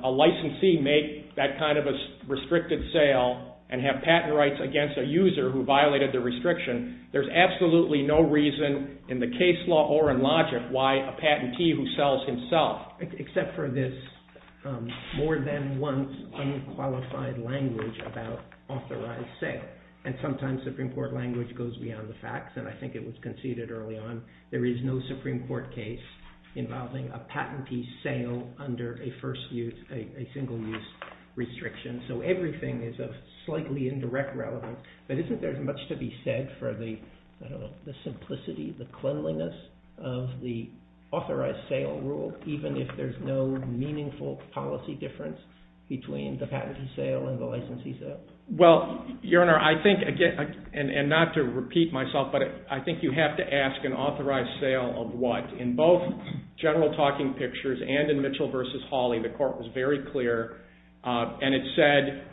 a licensee make that kind of a restricted sale and have patent rights against a user who violated the restriction, there's absolutely no reason in the case law or in logic why a patentee who sells himself. Except for this more than once unqualified language about authorized sale. And sometimes Supreme Court language goes beyond the facts, and I think it was conceded early on. There is no Supreme Court case involving a patentee sale under a first use, a single use restriction. So everything is a slightly indirect relevance. But isn't there much to be said for the simplicity, the cleanliness of the authorized sale rule, even if there's no meaningful policy difference between the patentee sale and the licensee sale? Well, Your Honor, I think, and not to repeat myself, but I think you have to ask an authorized sale of what? In both General Talking Pictures and in Mitchell v. Hawley, the court was very clear, and it said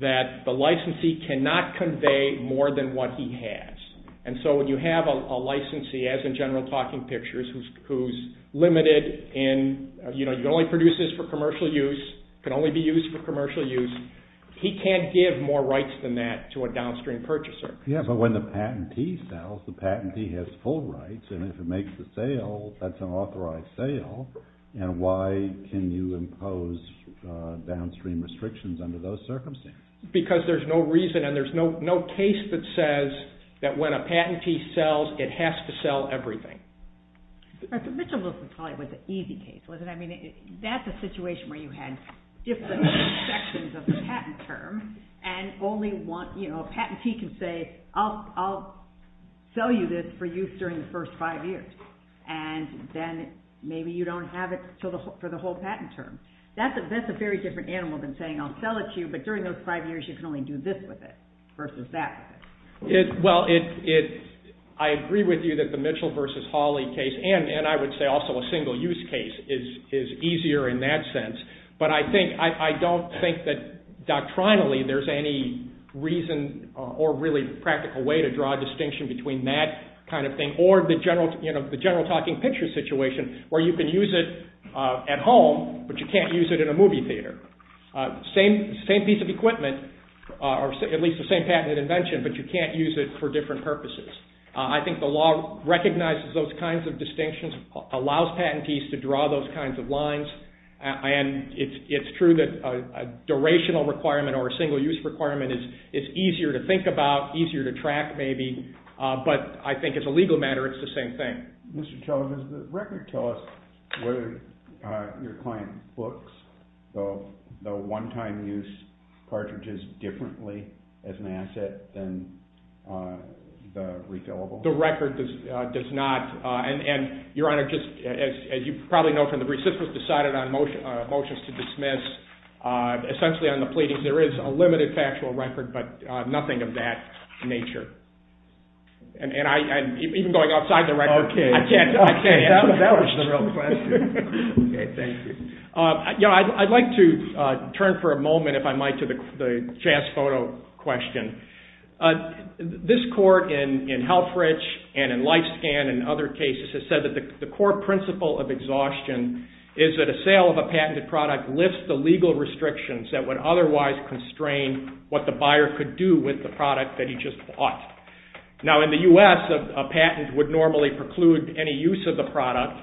that the licensee cannot convey more than what he has. And so when you have a licensee, as in General Talking Pictures, who's limited in, you know, you can only produce this for commercial use, can only be used for commercial use, he can't give more rights than that to a downstream purchaser. Yes, but when the patentee sells, the patentee has full rights, and if it makes the sale, that's an authorized sale, and why can you impose downstream restrictions under those circumstances? Because there's no reason, and there's no case that says that when a patentee sells, it has to sell everything. But Mitchell v. Hawley was an easy case, wasn't it? I mean, that's a situation where you had different sections of the patent term and only want, you know, a patentee can say, I'll sell you this for use during the first five years, and then maybe you don't have it for the whole patent term. That's a very different animal than saying I'll sell it to you, but during those five years, you can only do this with it versus that. Well, I agree with you that the Mitchell v. Hawley case, and I would say also a single-use case is easier in that sense, but I don't think that doctrinally there's any reason or really practical way to draw a distinction between that kind of thing or the general talking picture situation where you can use it at home, but you can't use it in a movie theater. Same piece of equipment, or at least the same patented invention, but you can't use it for different purposes. I think the law recognizes those kinds of distinctions, allows patentees to draw those kinds of lines. And it's true that a durational requirement or a single-use requirement is easier to think about, easier to track maybe, but I think as a legal matter, it's the same thing. Does the record tell us whether your client books the one-time use cartridges differently as an asset than the refillable? The record does not. Your Honor, as you probably know from the brief, this was decided on motions to dismiss. Essentially on the pleading, there is a limited factual record, but nothing of that nature. I'd like to turn for a moment, if I might, to the jazz photo question. This court in Helfrich and in Lifescan and other cases has said that the core principle of exhaustion is that a sale of a patented product lifts the legal restrictions that would otherwise constrain what the buyer could do with the product that he just bought. Now in the U.S., a patent would normally preclude any use of the product,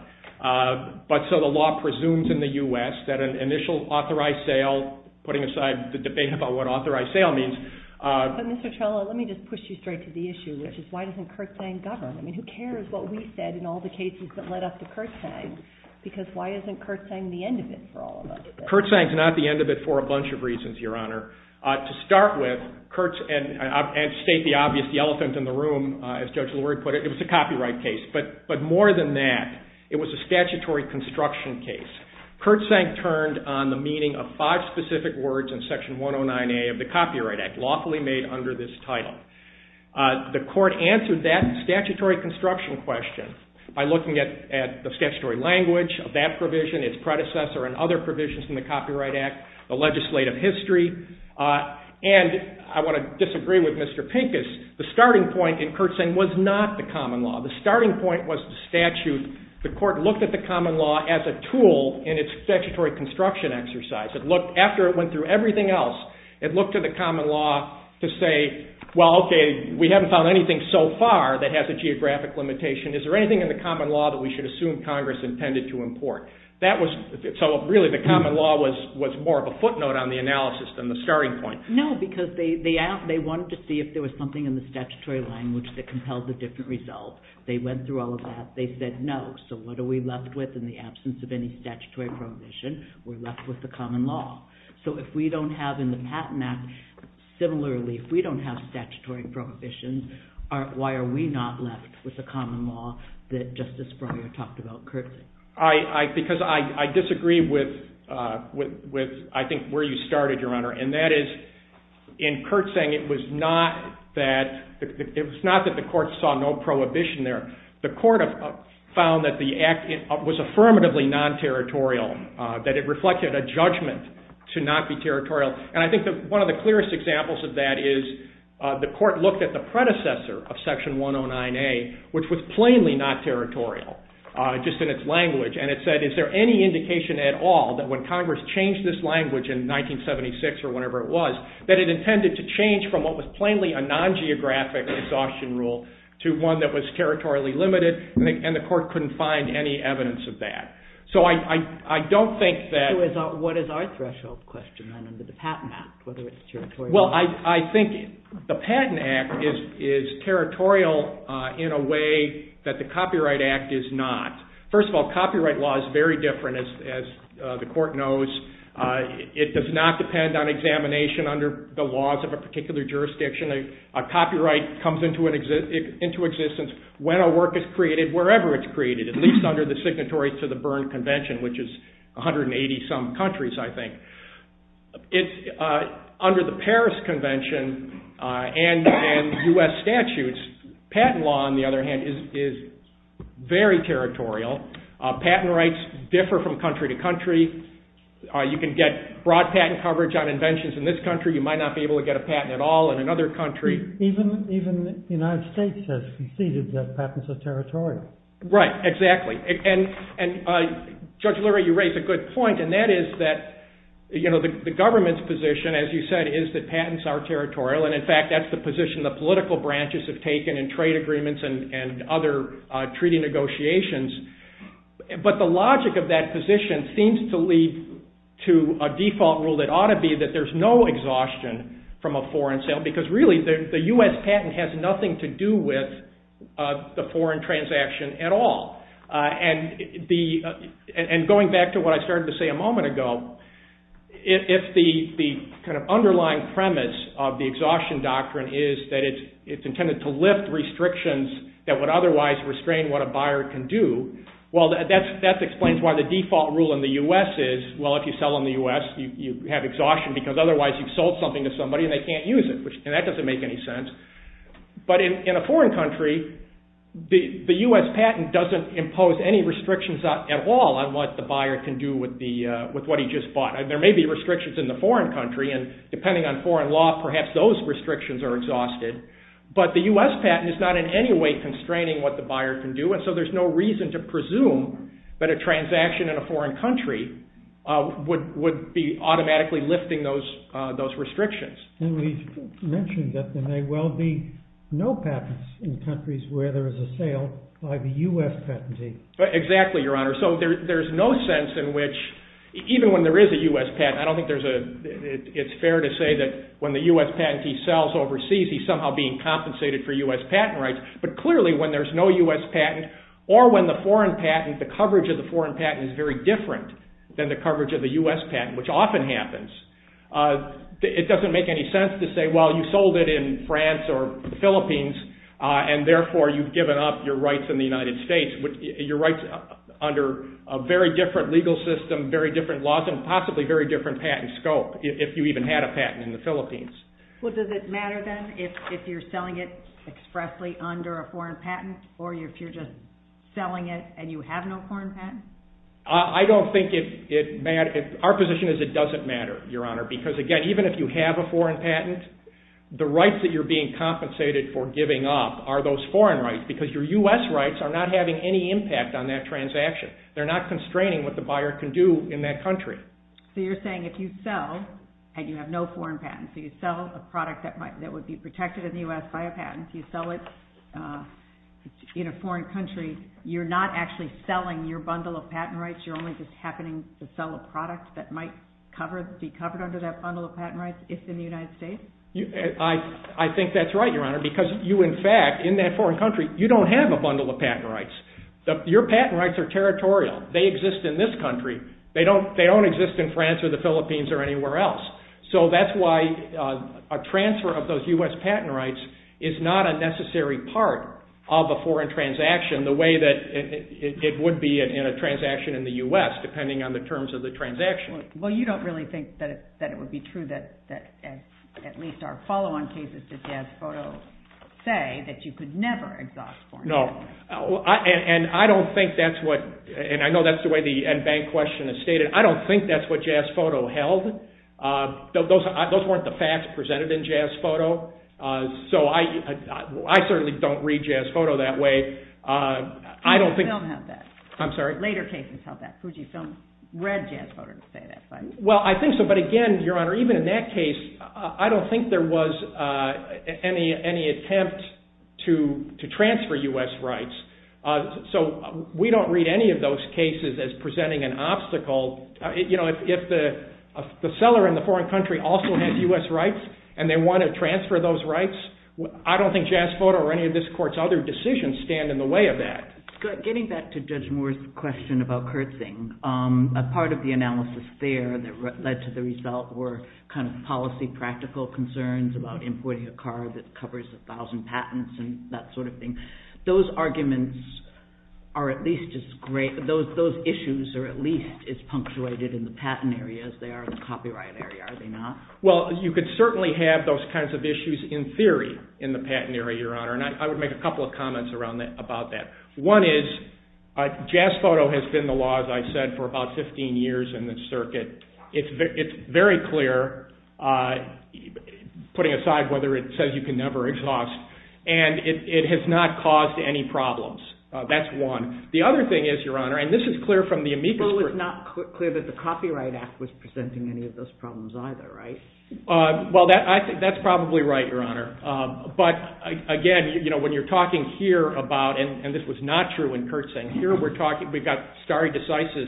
but so the law presumes in the U.S. that an initial authorized sale, putting aside the debate about what authorized sale means... But Mr. Trello, let me just push you straight to the issue, which is why doesn't Kertzsang govern? I mean, who cares what we said in all the cases that led up to Kertzsang, because why isn't Kertzsang the end of it for all of us? Kertzsang's not the end of it for a bunch of reasons, Your Honor. To start with, Kertzsang, and state the obvious, the elephant in the room, as Judge Lord put it, it was a copyright case, but more than that, it was a statutory construction case. Kertzsang turned on the meaning of five specific words in Section 109A of the Copyright Act, lawfully made under this title. The court answered that statutory construction question by looking at the statutory language of that provision, its predecessor and other provisions in the Copyright Act, the legislative history, and I want to disagree with Mr. Pincus, the starting point in Kertzsang was not the common law. The starting point was the statute. The court looked at the common law as a tool in its statutory construction exercise. After it went through everything else, it looked to the common law to say, well, okay, we haven't found anything so far that has a geographic limitation. Is there anything in the common law that we should assume Congress intended to import? So really, the common law was more of a footnote on the analysis than the starting point. No, because they wanted to see if there was something in the statutory language that compelled a different result. They went through all of that. They said, no, so what are we left with in the absence of any statutory prohibition? We're left with the common law. So if we don't have in the Patent Act, similarly, if we don't have statutory prohibition, why are we not left with the common law that Justice Breyer talked about, Kertzsang? Because I disagree with, I think, where you started, Your Honor, and that is, in Kertzsang, it was not that the court saw no prohibition there. The court found that the act was affirmatively non-territorial, that it reflected a judgment to not be territorial. And I think one of the clearest examples of that is the court looked at the predecessor of Section 109A, which was plainly not territorial, just in its language, and it said, is there any indication at all that when Congress changed this language in 1976 or whenever it was, that it intended to change from what was plainly a non-geographic exhaustion rule to one that was territorially limited, and the court couldn't find any evidence of that. So I don't think that... What is our threshold question under the Patent Act, whether it's territorial? Well, I think the Patent Act is territorial in a way that the Copyright Act is not. First of all, copyright law is very different, as the court knows. It does not depend on examination under the laws of a particular jurisdiction. A copyright comes into existence when a work is created, wherever it's created, at least under the signatories to the Berne Convention, which is 180-some countries, I think. Under the Paris Convention and U.S. statutes, patent law, on the other hand, is very territorial. Patent rights differ from country to country. You can get broad patent coverage on inventions in this country. You might not be able to get a patent at all in another country. Even the United States has conceded that patents are territorial. Right, exactly. And Judge Lurie, you raise a good point, and that is that the government's position, as you said, is that patents are territorial, and in fact, that's the position the political branches have taken in trade agreements and other treaty negotiations. But the logic of that position seems to lead to a default rule that ought to be that there's no exhaustion from a foreign sale, because really, the U.S. patent has nothing to do with the foreign transaction at all. And going back to what I started to say a moment ago, if the kind of underlying premise of the exhaustion doctrine is that it's intended to lift restrictions that would otherwise restrain what a buyer can do, well, that explains why the default rule in the U.S. is, well, if you sell in the U.S., you have exhaustion, because otherwise you've sold something to somebody and they can't use it, and that doesn't make any sense. But in a foreign country, the U.S. patent doesn't impose any restrictions at all on what the buyer can do with what he just bought. There may be restrictions in the foreign country, and depending on foreign law, perhaps those restrictions are exhausted, but the U.S. patent is not in any way constraining what the buyer can do, and so there's no reason to presume that a transaction in a foreign country would be automatically lifting those restrictions. And we've mentioned that there may well be no patents in countries where there is a sale by the U.S. patentee. Exactly, Your Honor. So there's no sense in which, even when there is a U.S. patent, I don't think there's a, it's fair to say that when the U.S. patentee sells overseas, he's somehow being compensated for U.S. patent rights, but clearly when there's no U.S. patent or when the foreign patent, the coverage of the foreign patent is very different than the coverage of the U.S. patent, which often happens, it doesn't make any sense to say, well, you sold it in France or the Philippines and therefore you've given up your rights in the United States, your rights under a very different legal system, very different laws, and possibly very different patent scope if you even had a patent in the Philippines. Well, does it matter then if you're selling it expressly under a foreign patent or if you're just selling it and you have no foreign patent? I don't think it matters. Our position is it doesn't matter, Your Honor, because again, even if you have a foreign patent, the rights that you're being compensated for giving up are those foreign rights because your U.S. rights are not having any impact on that transaction. They're not constraining what the buyer can do in that country. So you're saying if you sell and you have no foreign patent, so you sell a product that would be protected in the U.S. by a patent, you sell it in a foreign country, you're not actually selling your bundle of patent rights, you're only just happening to sell a product that might be covered under that bundle of patent rights if in the United States? I think that's right, Your Honor, because you, in fact, in that foreign country, you don't have a bundle of patent rights. Your patent rights are territorial. They exist in this country. They don't exist in France or the Philippines or anywhere else. So that's why a transfer of those U.S. patent rights is not a necessary part of a foreign transaction the way that it would be in a transaction in the U.S., depending on the terms of the transaction. Well, you don't really think that it would be true that at least our follow-on cases to Jazz Photo say that you could never exhaust foreign patents. No. And I don't think that's what, and I know that's the way the bank question is stated, I don't think that's what Jazz Photo held. Those weren't the facts presented in Jazz Photo. So I certainly don't read Jazz Photo that way. I don't think... You don't have that. I'm sorry? Later cases held that Fuji Films read Jazz Photo to say that, but... Well, I think so, but again, Your Honor, even in that case, I don't think there was any attempt to transfer U.S. rights. So we don't read any of those cases as presenting an obstacle. You know, if the seller in the foreign country also has U.S. rights, and they want to transfer those rights, I don't think Jazz Photo or any of this court's other decisions stand in the way of that. Getting back to Judge Moore's question about curtsing, a part of the analysis there that led to the result were kind of policy practical concerns about importing a car that covers a thousand patents and that sort of thing. Those arguments are at least as great, those issues are at least as punctuated in the patent area as they are in the copyright area, are they not? Well, you could certainly have those kinds of issues in theory in the patent area, Your Honor, and I would make a couple of comments about that. One is, Jazz Photo has been the law, as I've said, for about 15 years in the circuit. It's very clear, putting aside whether it says you can never exhaust, and it has not caused any problems. That's one. The other thing is, Your Honor, and this is clear from the amicus group... Well, it's not clear that the Copyright Act was presenting any of those problems either, right? Well, that's probably right, Your Honor. But again, when you're talking here about, and this was not true in curtsing, we've got stare decisis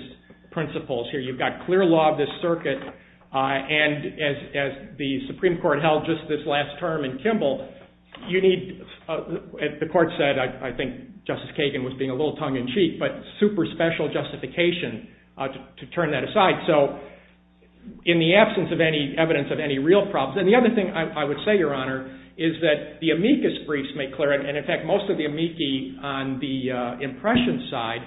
principles here, you've got clear law of the circuit, and as the Supreme Court held just this last term in Kimball, you need, as the Court said, I think Justice Kagan was being a little tongue-in-cheek, but super special justification to turn that aside. So, in the absence of any evidence of any real problems... And the other thing I would say, Your Honor, is that the amicus briefs make clear, and in fact, most of the amici on the impression side,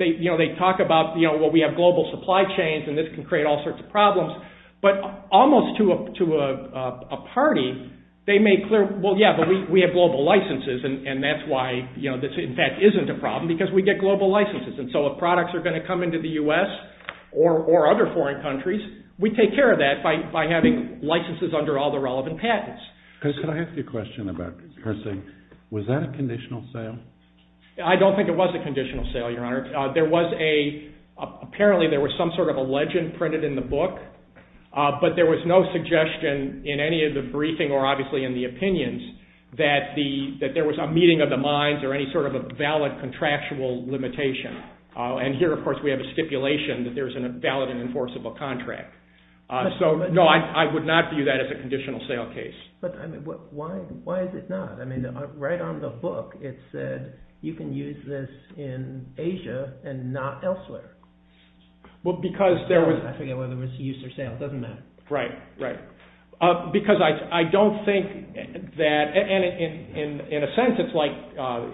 they talk about, well, we have global supply chains and this can create all sorts of problems, but almost to a party, they make clear, well, yeah, but we have global licenses and that's why this, in fact, isn't a problem because we get global licenses. And so if products are going to come into the U.S. or other foreign countries, we take care of that by having licenses under all the relevant patents. Can I ask you a question about cursing? Was that a conditional sale? I don't think it was a conditional sale, Your Honor. There was a, apparently there was some sort of a legend printed in the book, but there was no suggestion in any of the briefing or obviously in the opinions that there was a meeting of the minds or any sort of a valid contractual limitation. And here, of course, we have a stipulation that there's a valid and enforceable contract. So, no, I would not view that as a conditional sale case. But why is it not? I mean, right on the book, it said, you can use this in Asia and not elsewhere. Well, because there was... I forget whether it was use or sale. It doesn't matter. Right, right. Because I don't think that, in a sense, it's like,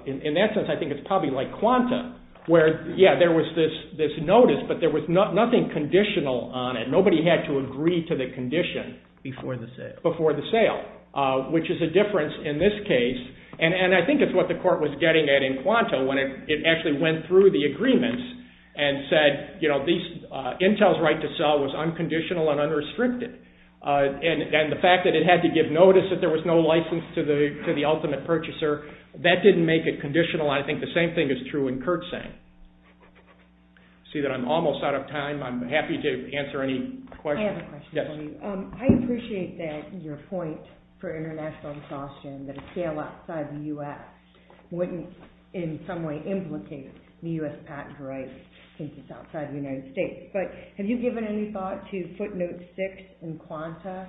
in that sense, I think it's probably like quanta, where, yeah, there was this notice, but there was nothing conditional on it. Nobody had to agree to the condition before the sale, which is a difference in this case. And I think it's what the court was getting at in quanta when it actually went through the agreements and said, you know, Intel's right to sell was unconditional and unrestricted. And the fact that it had to give notice that there was no license to the ultimate purchaser, that didn't make it conditional. I think the same thing is true in curtsaying. See that I'm almost out of time. I'm happy to answer any questions. I have a question for you. I appreciate your point for international exhaustion that a sale outside the U.S. wouldn't, in some way, implicate U.S. patent rights since it's outside the United States. But have you given any thought to footnote six in quanta,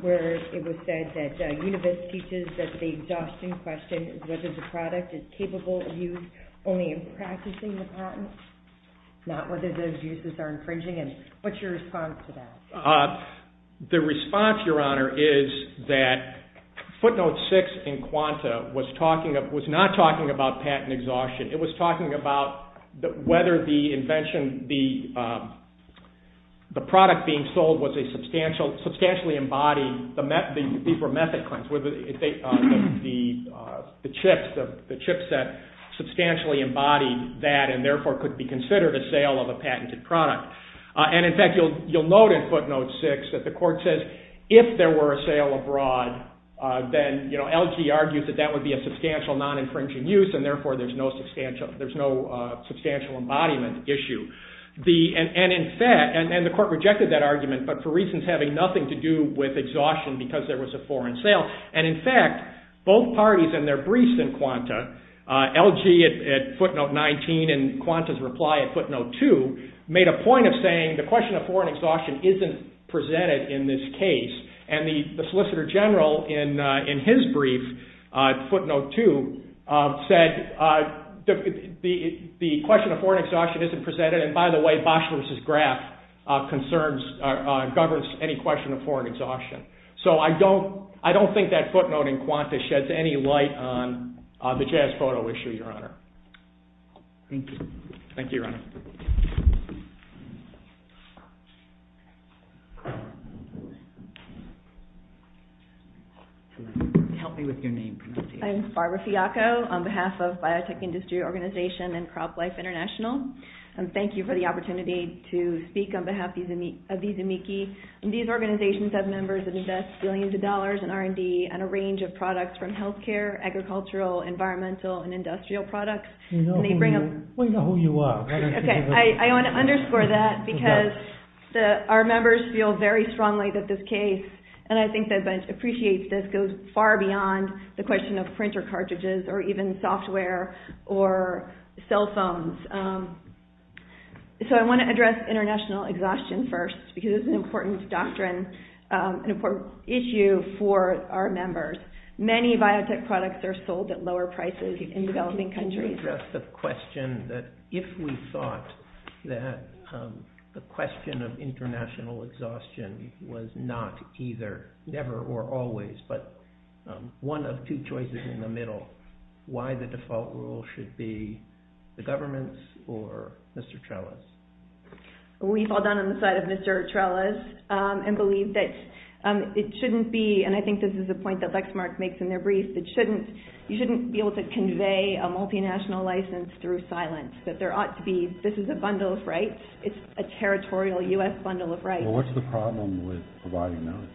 where it was said that Univis teaches that the exhaustion question is whether the product is capable of use only in practicing the patent, not whether those uses are infringing it. What's your response to that? The response, Your Honor, is that footnote six in quanta was not talking about patent exhaustion. It was talking about whether the invention, the product being sold, was a substantially embodied, these were method claims, the chipset substantially embodied that and therefore could be considered a sale of a patented product. And in fact, you'll note in footnote six that the court says if there were a sale abroad, then LG argued that that would be a substantial non-infringing use and therefore there's no substantial embodiment issue and the court rejected that argument but for reasons having nothing to do with exhaustion because there was a foreign sale. And in fact, both parties in their briefs in quanta, LG at footnote 19 and quanta's reply at footnote two made a point of saying the question of foreign exhaustion isn't presented in this case and the Solicitor General in his brief, footnote two, said the question of foreign exhaustion isn't presented and by the way, Boshler's graph concerns, governs any question of foreign exhaustion. So I don't think that footnote in quanta sheds any light on the jazz photo issue, Your Honor. Thank you. Thank you, Your Honor. Help me with your name. My name is Barbara Fiaco on behalf of Biotech Industry Organization and CropLife International. And thank you for the opportunity to speak on behalf of these amici. And these organizations have members that invest billions of dollars in R&D and a range of products from healthcare, agricultural, environmental, and industrial products. We know who you are. Okay, I want to underscore that because our members feel very strongly that this case and I think they appreciate this goes far beyond the question of printer cartridges or even software or cell phones so I want to address international exhaustion first because it's an important doctrine, an important issue for our members. Many biotech products are sold at lower prices in developing countries. Just a question that if we thought that the question of international exhaustion was not either never or always but one of two choices in the middle, why the default rule should be the government's or Mr. Trella's? We fall down on the side of Mr. Trella's and believe that it shouldn't be and I think this is a point that Lexmark makes in their brief that you shouldn't be able to convey a multinational license through silence. That there ought to be, this is a bundle of rights. It's a territorial U.S. bundle of rights. Well, what's the problem with providing notice?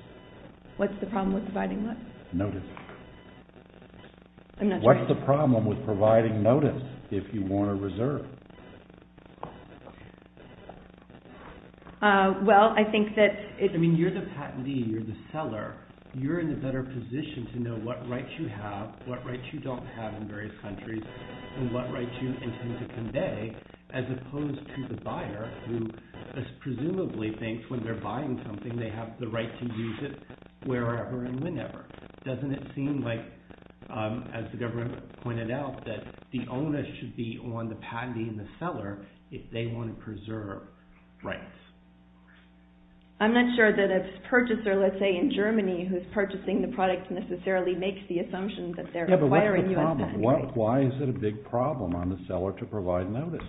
What's the problem with providing what? Notice. I'm not sure. What's the problem with providing notice if you want a reserve? Well, I think that... I mean, you're the patentee, you're the seller. You're in a better position to know what rights you have, what rights you don't have in various countries and what rights you intend to convey as opposed to the buyer who presumably thinks when they're buying something they have the right to use it wherever and whenever. Doesn't it seem like, as the government pointed out, that the onus should be on the patentee and the seller if they want to preserve rights? I'm not sure that a purchaser, let's say in Germany, who's purchasing the product necessarily makes the assumption that they're acquiring U.S. patents. Yeah, but what's the problem? Why is it a big problem on the seller to provide notice?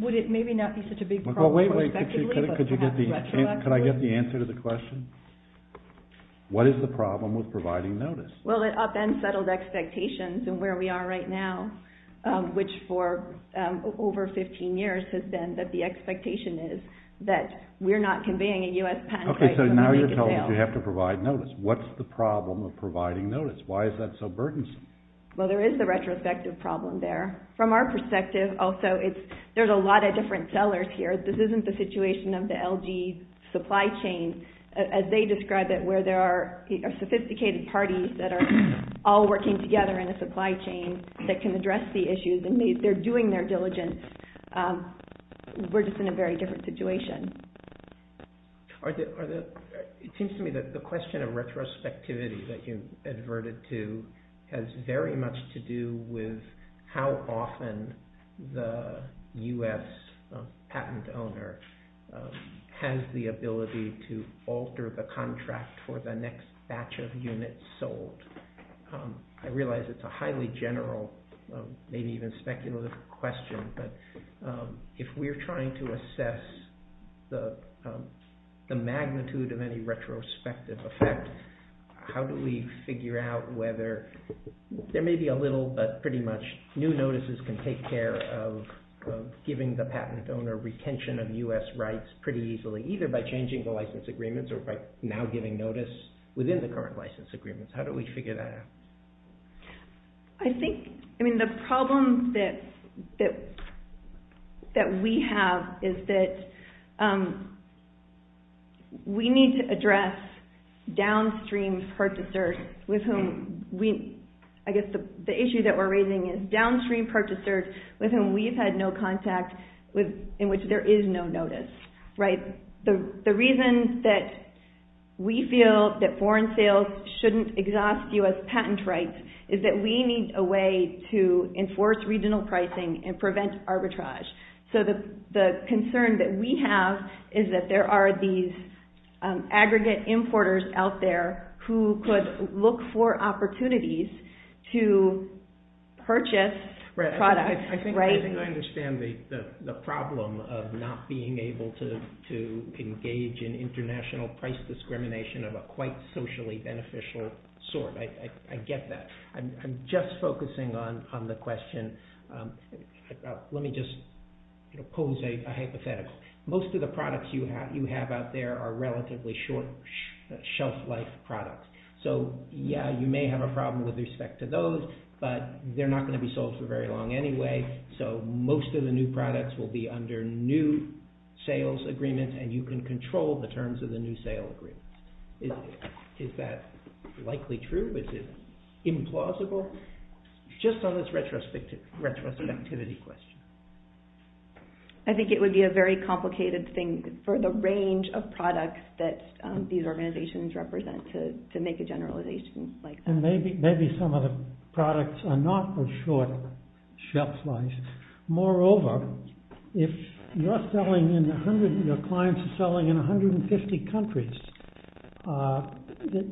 Would it maybe not be such a big problem prospectively? Well, wait, wait. Could I get the answer to the question? What is the problem with providing notice? Well, it upends settled expectations and where we are right now, which for over 15 years has been that the expectation is that we're not conveying a U.S. patent and we're not making sales. Okay, so now you're telling us we have to provide notice. What's the problem of providing notice? Why is that so burdensome? Well, there is the retrospective problem there. From our perspective, also, there's a lot of different sellers here. This isn't the situation of the LG supply chain as they describe it, where there are sophisticated parties that are all working together in a supply chain that can address the issues and they're doing their diligence. We're just in a very different situation. It seems to me that the question of retrospectivity that you've adverted to has very much to do with how often the U.S. patent owner has the ability to alter the contract for the next batch of units sold. I realize it's a highly general, maybe even speculative question, but if we're trying to assess the magnitude of any retrospective effect, how do we figure out whether there may be a little but pretty much new notices can take care of giving the patent owner retention of U.S. rights pretty easily, even by changing the license agreements or by now giving notice within the current license agreements? How do we figure that out? I think the problem that we have is that we need to address downstream purchasers with whom we... I guess the issue that we're raising is downstream purchasers with whom we've had no contact in which there is no notice. The reason that we feel that foreign sales shouldn't exhaust U.S. patent rights is that we need a way to enforce regional pricing and prevent arbitrage. The concern that we have is that there are these aggregate importers out there who could look for opportunities to purchase products. I think I understand the problem of not being able to engage in international price discrimination of a quite socially beneficial sort. I get that. I'm just focusing on the question. Let me just pose a hypothetical. Most of the products you have out there are relatively short shelf-life products. Yeah, you may have a problem with respect to those, but they're not going to be sold for very long anyway, so most of the new products will be under new sales agreement and you can control the terms of the new sale agreement. Is that likely true? Is it implausible? Just on this retrospectivity question. I think it would be a very complicated thing for the range of products that these organizations represent to make a generalization. And maybe some of the products are not as short shelf-life. Moreover, if your clients are selling in 150 countries,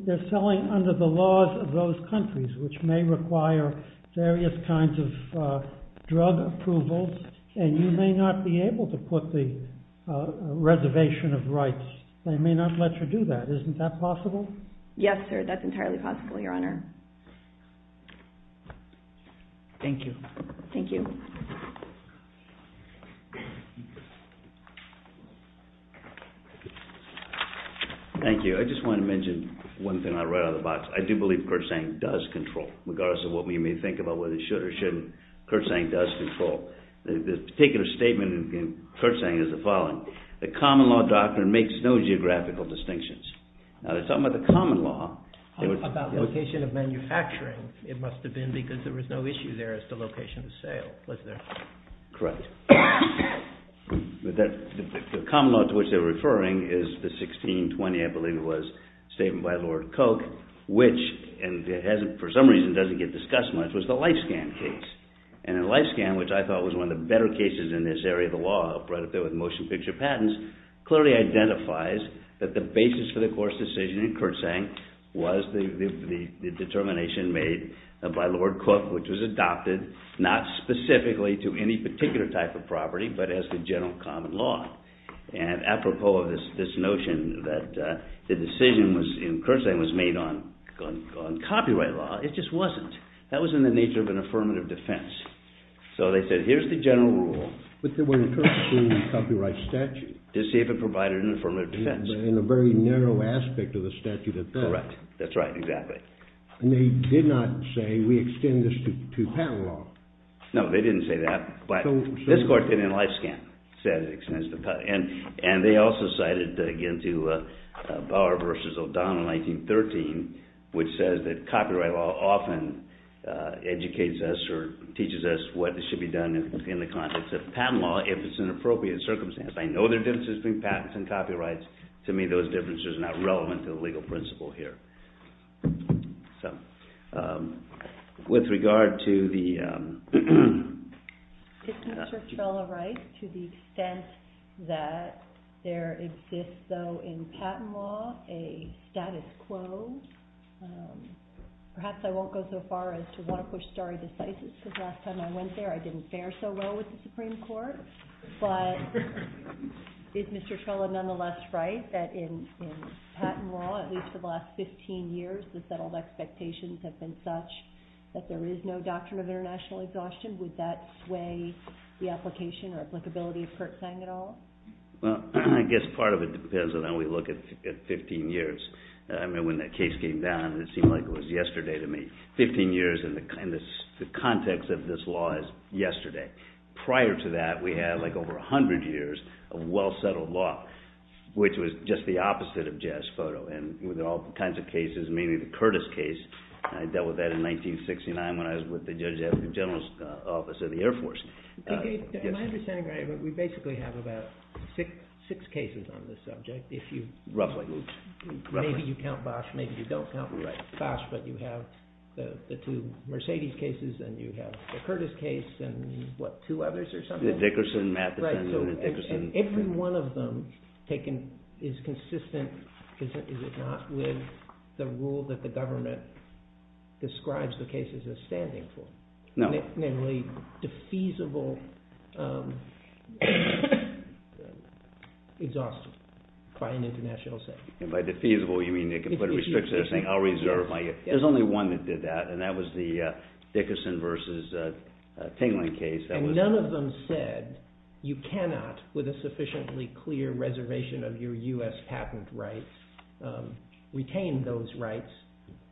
they're selling under the laws of those countries which may require various kinds of drug approvals and you may not be able to put the reservation of rights. They may not let you do that. Isn't that possible? Yes, sir. That's entirely possible, Your Honor. Thank you. Thank you. Thank you. I just want to mention one thing I read on the box. I do believe Kersang does control, regardless of what we may think about whether it should or shouldn't, Kersang does control. The particular statement in Kersang is the following. The common law doctor makes no geographical distinctions. Now, they're talking about the common law. How about location of manufacturing? It must have been because there was no issue there as to location of sale, was there? Correct. The common law to which they're referring is the 1620, I believe it was, statement by Lord Koch which, and it hasn't, for some reason doesn't get discussed much, was the LifeScan case. And the LifeScan, which I thought was one of the better cases in this area of the law, right up there with motion picture patents, clearly identifies that the basis for the Coors decision in Kersang was the determination made by Lord Koch which was adopted, not specifically to any particular type of property but as the general common law. And apropos of this notion that the decision in Kersang was made on copyright law, it just wasn't. That was in the nature of an affirmative defense. So they said, here's the general rule. But they were interested in the copyright statute. To see if it provided an affirmative defense. In a very narrow aspect of the statute. Correct, that's right, exactly. And they did not say, we extend this to patent law. No, they didn't say that. But this court did in the LifeScan, said it extends to patent. And they also cited, again, to Bauer versus O'Donnell in 1913 which says that copyright law often educates us or teaches us what should be done in the context of patent law if it's an appropriate circumstance. I know there are differences between patents and copyrights. To me, those differences are not relevant to the legal principle here. So, with regard to the... To the extent that there exists, though, in patent law, a status quo. Perhaps I won't go so far as to walk with storied deficits because last time I went there I didn't fare so well with the Supreme Court. But is Mr. Trella nonetheless right that in patent law, at least for the last 15 years, the settled expectations have been such that there is no doctrine of international exhaustion? Would that sway the application or applicability of Kurtzsang at all? Well, I guess part of it depends on how we look at 15 years. When that case came down, it seemed like it was yesterday to me. 15 years in the context of this law is yesterday. Prior to that, we had like over 100 years of well-settled law, which was just the opposite of jazz photo. And with all kinds of cases, mainly the Curtis case, I dealt with that in 1969 when I was with the judge at the general's office of the Air Force. Am I understanding right? We basically have about six cases on this subject. Roughly. Maybe you count Bosch, maybe you don't count Bosch, but you have the two Mercedes cases and you have the Curtis case and what, two others or something? Dickerson, Matheson, and Dickerson. Every one of them is consistent, is it not, with the rule that the government describes the cases as standing for? No. Namely, defeasible exhaustion by an international setting. And by defeasible you mean they can put a restriction saying, I'll reserve my... There's only one that did that, and that was the Dickerson versus Kingling case. And none of them said you cannot, with a sufficiently clear reservation of your U.S. patent rights, retain those rights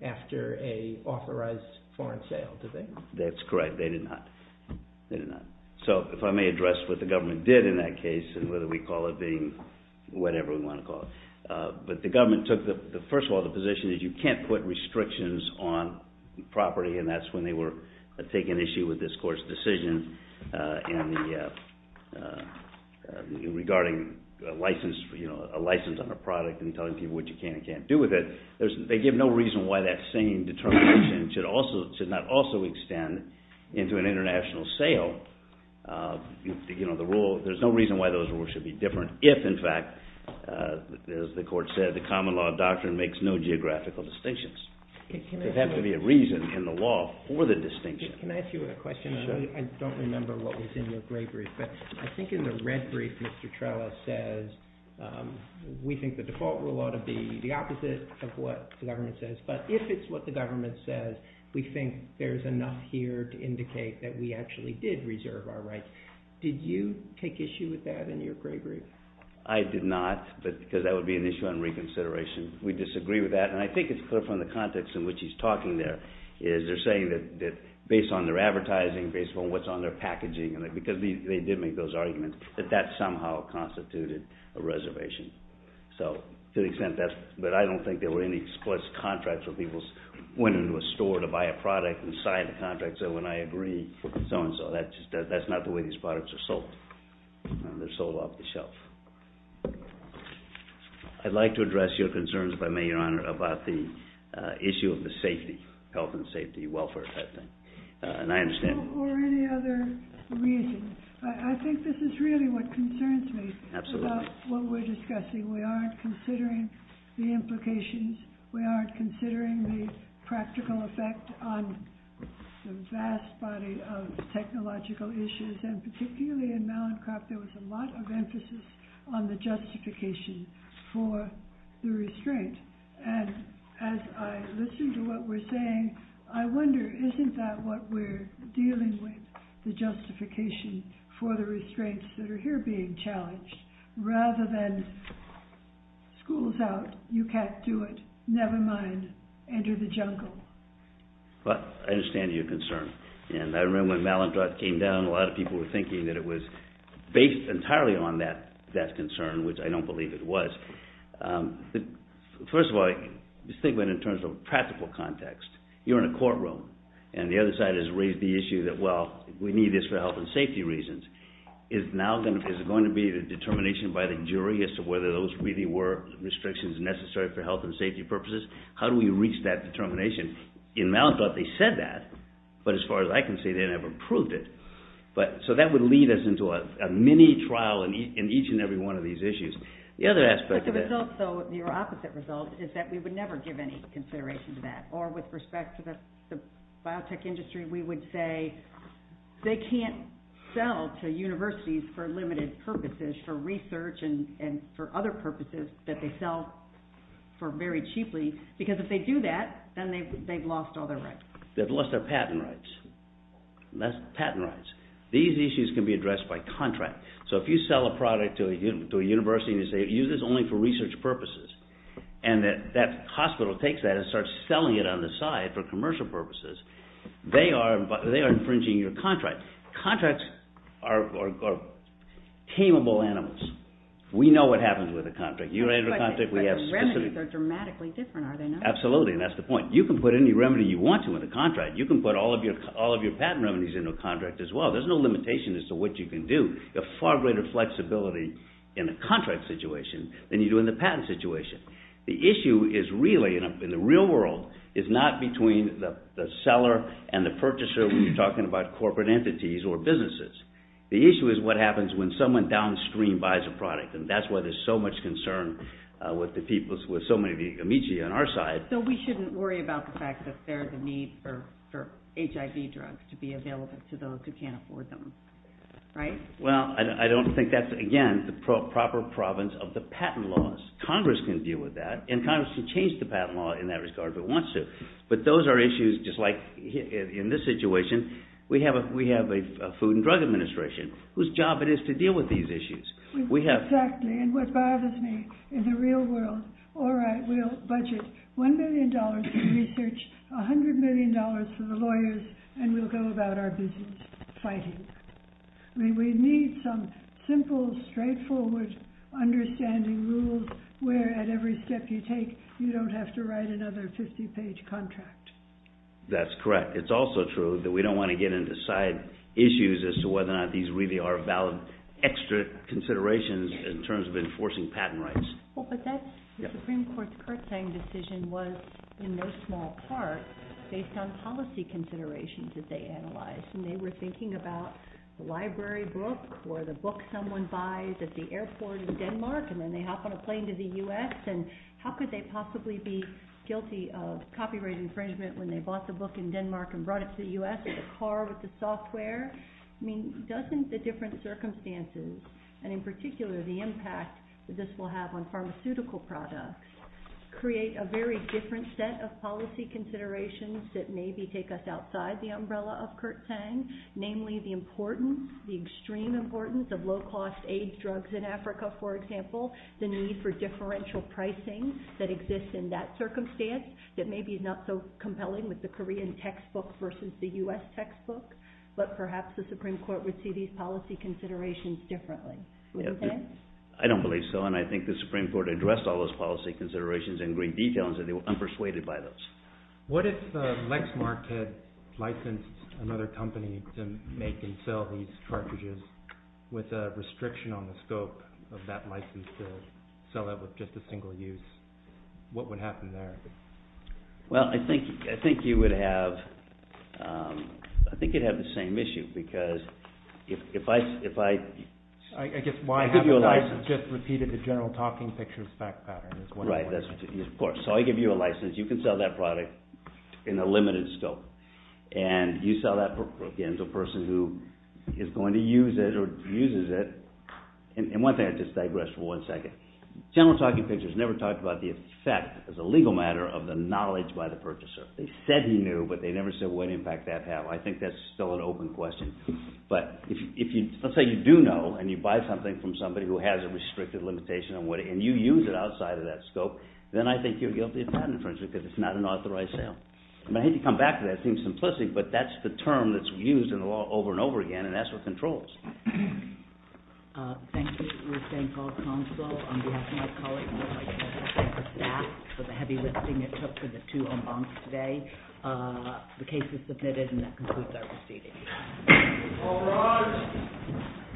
after an authorized foreign sale, did they? That's correct. They did not. They did not. So, if I may address what the government did in that case and whether we call it being whatever we want to call it. But the government took, first of all, the position that you can't put restrictions on property, and that's when they were taking issue with this court's decision regarding a license on a product and telling people what you can and can't do with it. They give no reason why that same determination should not also extend into an international sale. There's no reason why those rules should be different if, in fact, as the court said, the common law doctrine makes no geographical distinctions. There has to be a reason in the law for the distinction. Can I ask you a question? I don't remember what was in your gray brief, but I think in the red brief, Mr. Trella says, we think the default rule ought to be the opposite of what the government says. But if it's what the government says, we think there's enough here to indicate that we actually did reserve our rights. Did you take issue with that in your gray brief? I did not, because that would be an issue on reconsideration. We disagree with that, and I think it's clear from the context in which he's talking there is they're saying that based on their advertising, based on what's on their packaging, because they did make those arguments, that that somehow constituted a reservation. But I don't think there were any explicit contracts where people went into a store to buy a product and signed the contract and said, when I agree, so-and-so. That's not the way these products are sold. They're sold off the shelf. I'd like to address your concerns, if I may, Your Honor, about the issue of the safety, health and safety, welfare type thing. And I understand... Or any other reason. I think this is really what concerns me about what we're discussing. We aren't considering the implications. We aren't considering the practical effect on the vast body of technological issues. And particularly in Mallincroft, there was a lot of emphasis on the justification for the restraint. And as I listen to what we're saying, I wonder, isn't that what we're dealing with, the justification for the restraints that are here being challenged, rather than school's out, you can't do it, never mind, enter the jungle? Well, I understand your concern. And I remember when Mallincroft came down, a lot of people were thinking that it was based entirely on that concern, which I don't believe it was. First of all, think of it in terms of practical context. You're in a courtroom, and the other side has raised the issue that, well, we need this for health and safety reasons. Is it going to be a determination by the jury as to whether those really were restrictions necessary for health and safety purposes? How do we reach that determination? In Mallincroft, they said that, but as far as I can see, they never proved it. So that would lead us into a mini-trial in each and every one of these issues. The other aspect of it... But the result, though, your opposite result, is that we would never give any consideration to that. Or with respect to the biotech industry, we would say they can't sell to universities for limited purposes, for research and for other purposes, that they sell for very cheaply, because if they do that, then they've lost all their rights. They've lost their patent rights. That's patent rights. These issues can be addressed by contract. So if you sell a product to a university and you say, use this only for research purposes, and that hospital takes that and starts selling it on the side for commercial purposes, they are infringing your contract. Contracts are tamable animals. We know what happens with a contract. You write a contract, we have specific... But the remedies are dramatically different, are they not? Absolutely, and that's the point. You can put any remedy you want to in the contract. You can put all of your patent remedies into a contract as well. There's no limitation as to what you can do. You have far greater flexibility in the contract situation than you do in the patent situation. The issue is really, in the real world, is not between the seller and the purchaser when you're talking about corporate entities or businesses. The issue is what happens when someone downstream buys a product, and that's why there's so much concern with so many of the amici on our side. So we shouldn't worry about the fact that there's a need for HIV drugs to be available to those who can't afford them. Right? Well, I don't think that's, again, the proper province of the patent laws. Congress can deal with that, and Congress can change the patent law in that regard if it wants to. But those are issues, just like in this situation, we have a Food and Drug Administration whose job it is to deal with these issues. Exactly, and what bothers me, in the real world, all right, we'll budget $1 million for research, $100 million for the lawyers, and we'll go about our business fighting. I mean, we need some simple, straightforward understanding rules where at every step you take, you don't have to write another 50-page contract. That's correct. It's also true that we don't want to get into side issues as to whether or not these really are valid extra considerations in terms of enforcing patent rights. Well, but that Supreme Court's Curtain decision was, in no small part, based on policy considerations that they analyzed, and they were thinking about the library book or the book someone buys at the airport in Denmark, and then they hop on a plane to the U.S., and how could they possibly be guilty of copyright infringement when they bought the book in Denmark and brought it to the U.S. in a car with the software? I mean, doesn't the different circumstances, and in particular the impact that this will have on pharmaceutical products, create a very different set of policy considerations that maybe take us outside the umbrella of Curtain, namely the importance, the extreme importance, of low-cost AIDS drugs in Africa, for example, the need for differential pricing that exists in that circumstance that maybe is not so compelling with the Korean textbook versus the U.S. textbook, but perhaps the Supreme Court would see these policy considerations differently. I don't believe so, and I think the Supreme Court addressed all those policy considerations in great detail and said they were unpersuaded by those. What if Lexmark had licensed another company to make and sell these cartridges with a restriction on the scope of that license to sell that with just a single use? What would happen there? Well, I think you would have... I think you'd have the same issue, because if I... I guess why... I give you a license. I just repeated the general talking picture of FACFAP. Right, of course. So I give you a license. You can sell that product in a limited scope, and you sell that, again, to a person who is going to use it or refuses it. And one thing, I'll just digress for one second. General talking pictures never talked about the effect, as a legal matter, of the knowledge by the purchaser. They said you knew, but they never said what impact FACFAP had. I think that's still an open question. But if you... Let's say you do know, and you buy something from somebody who has a restricted limitation, and you use it outside of that scope, then I think you're guilty of patent infringement, because it's not an authorized sale. And I hate to come back to that, it seems simplistic, but that's the term that's used over and over again, and that's what controls. Thank you. Ruth St. Paul Counsel, on behalf of my colleagues, and the FACFAP staff, for the heavy lifting it took for the two en bancs today. The case is submitted, and concludes our proceedings. All rise.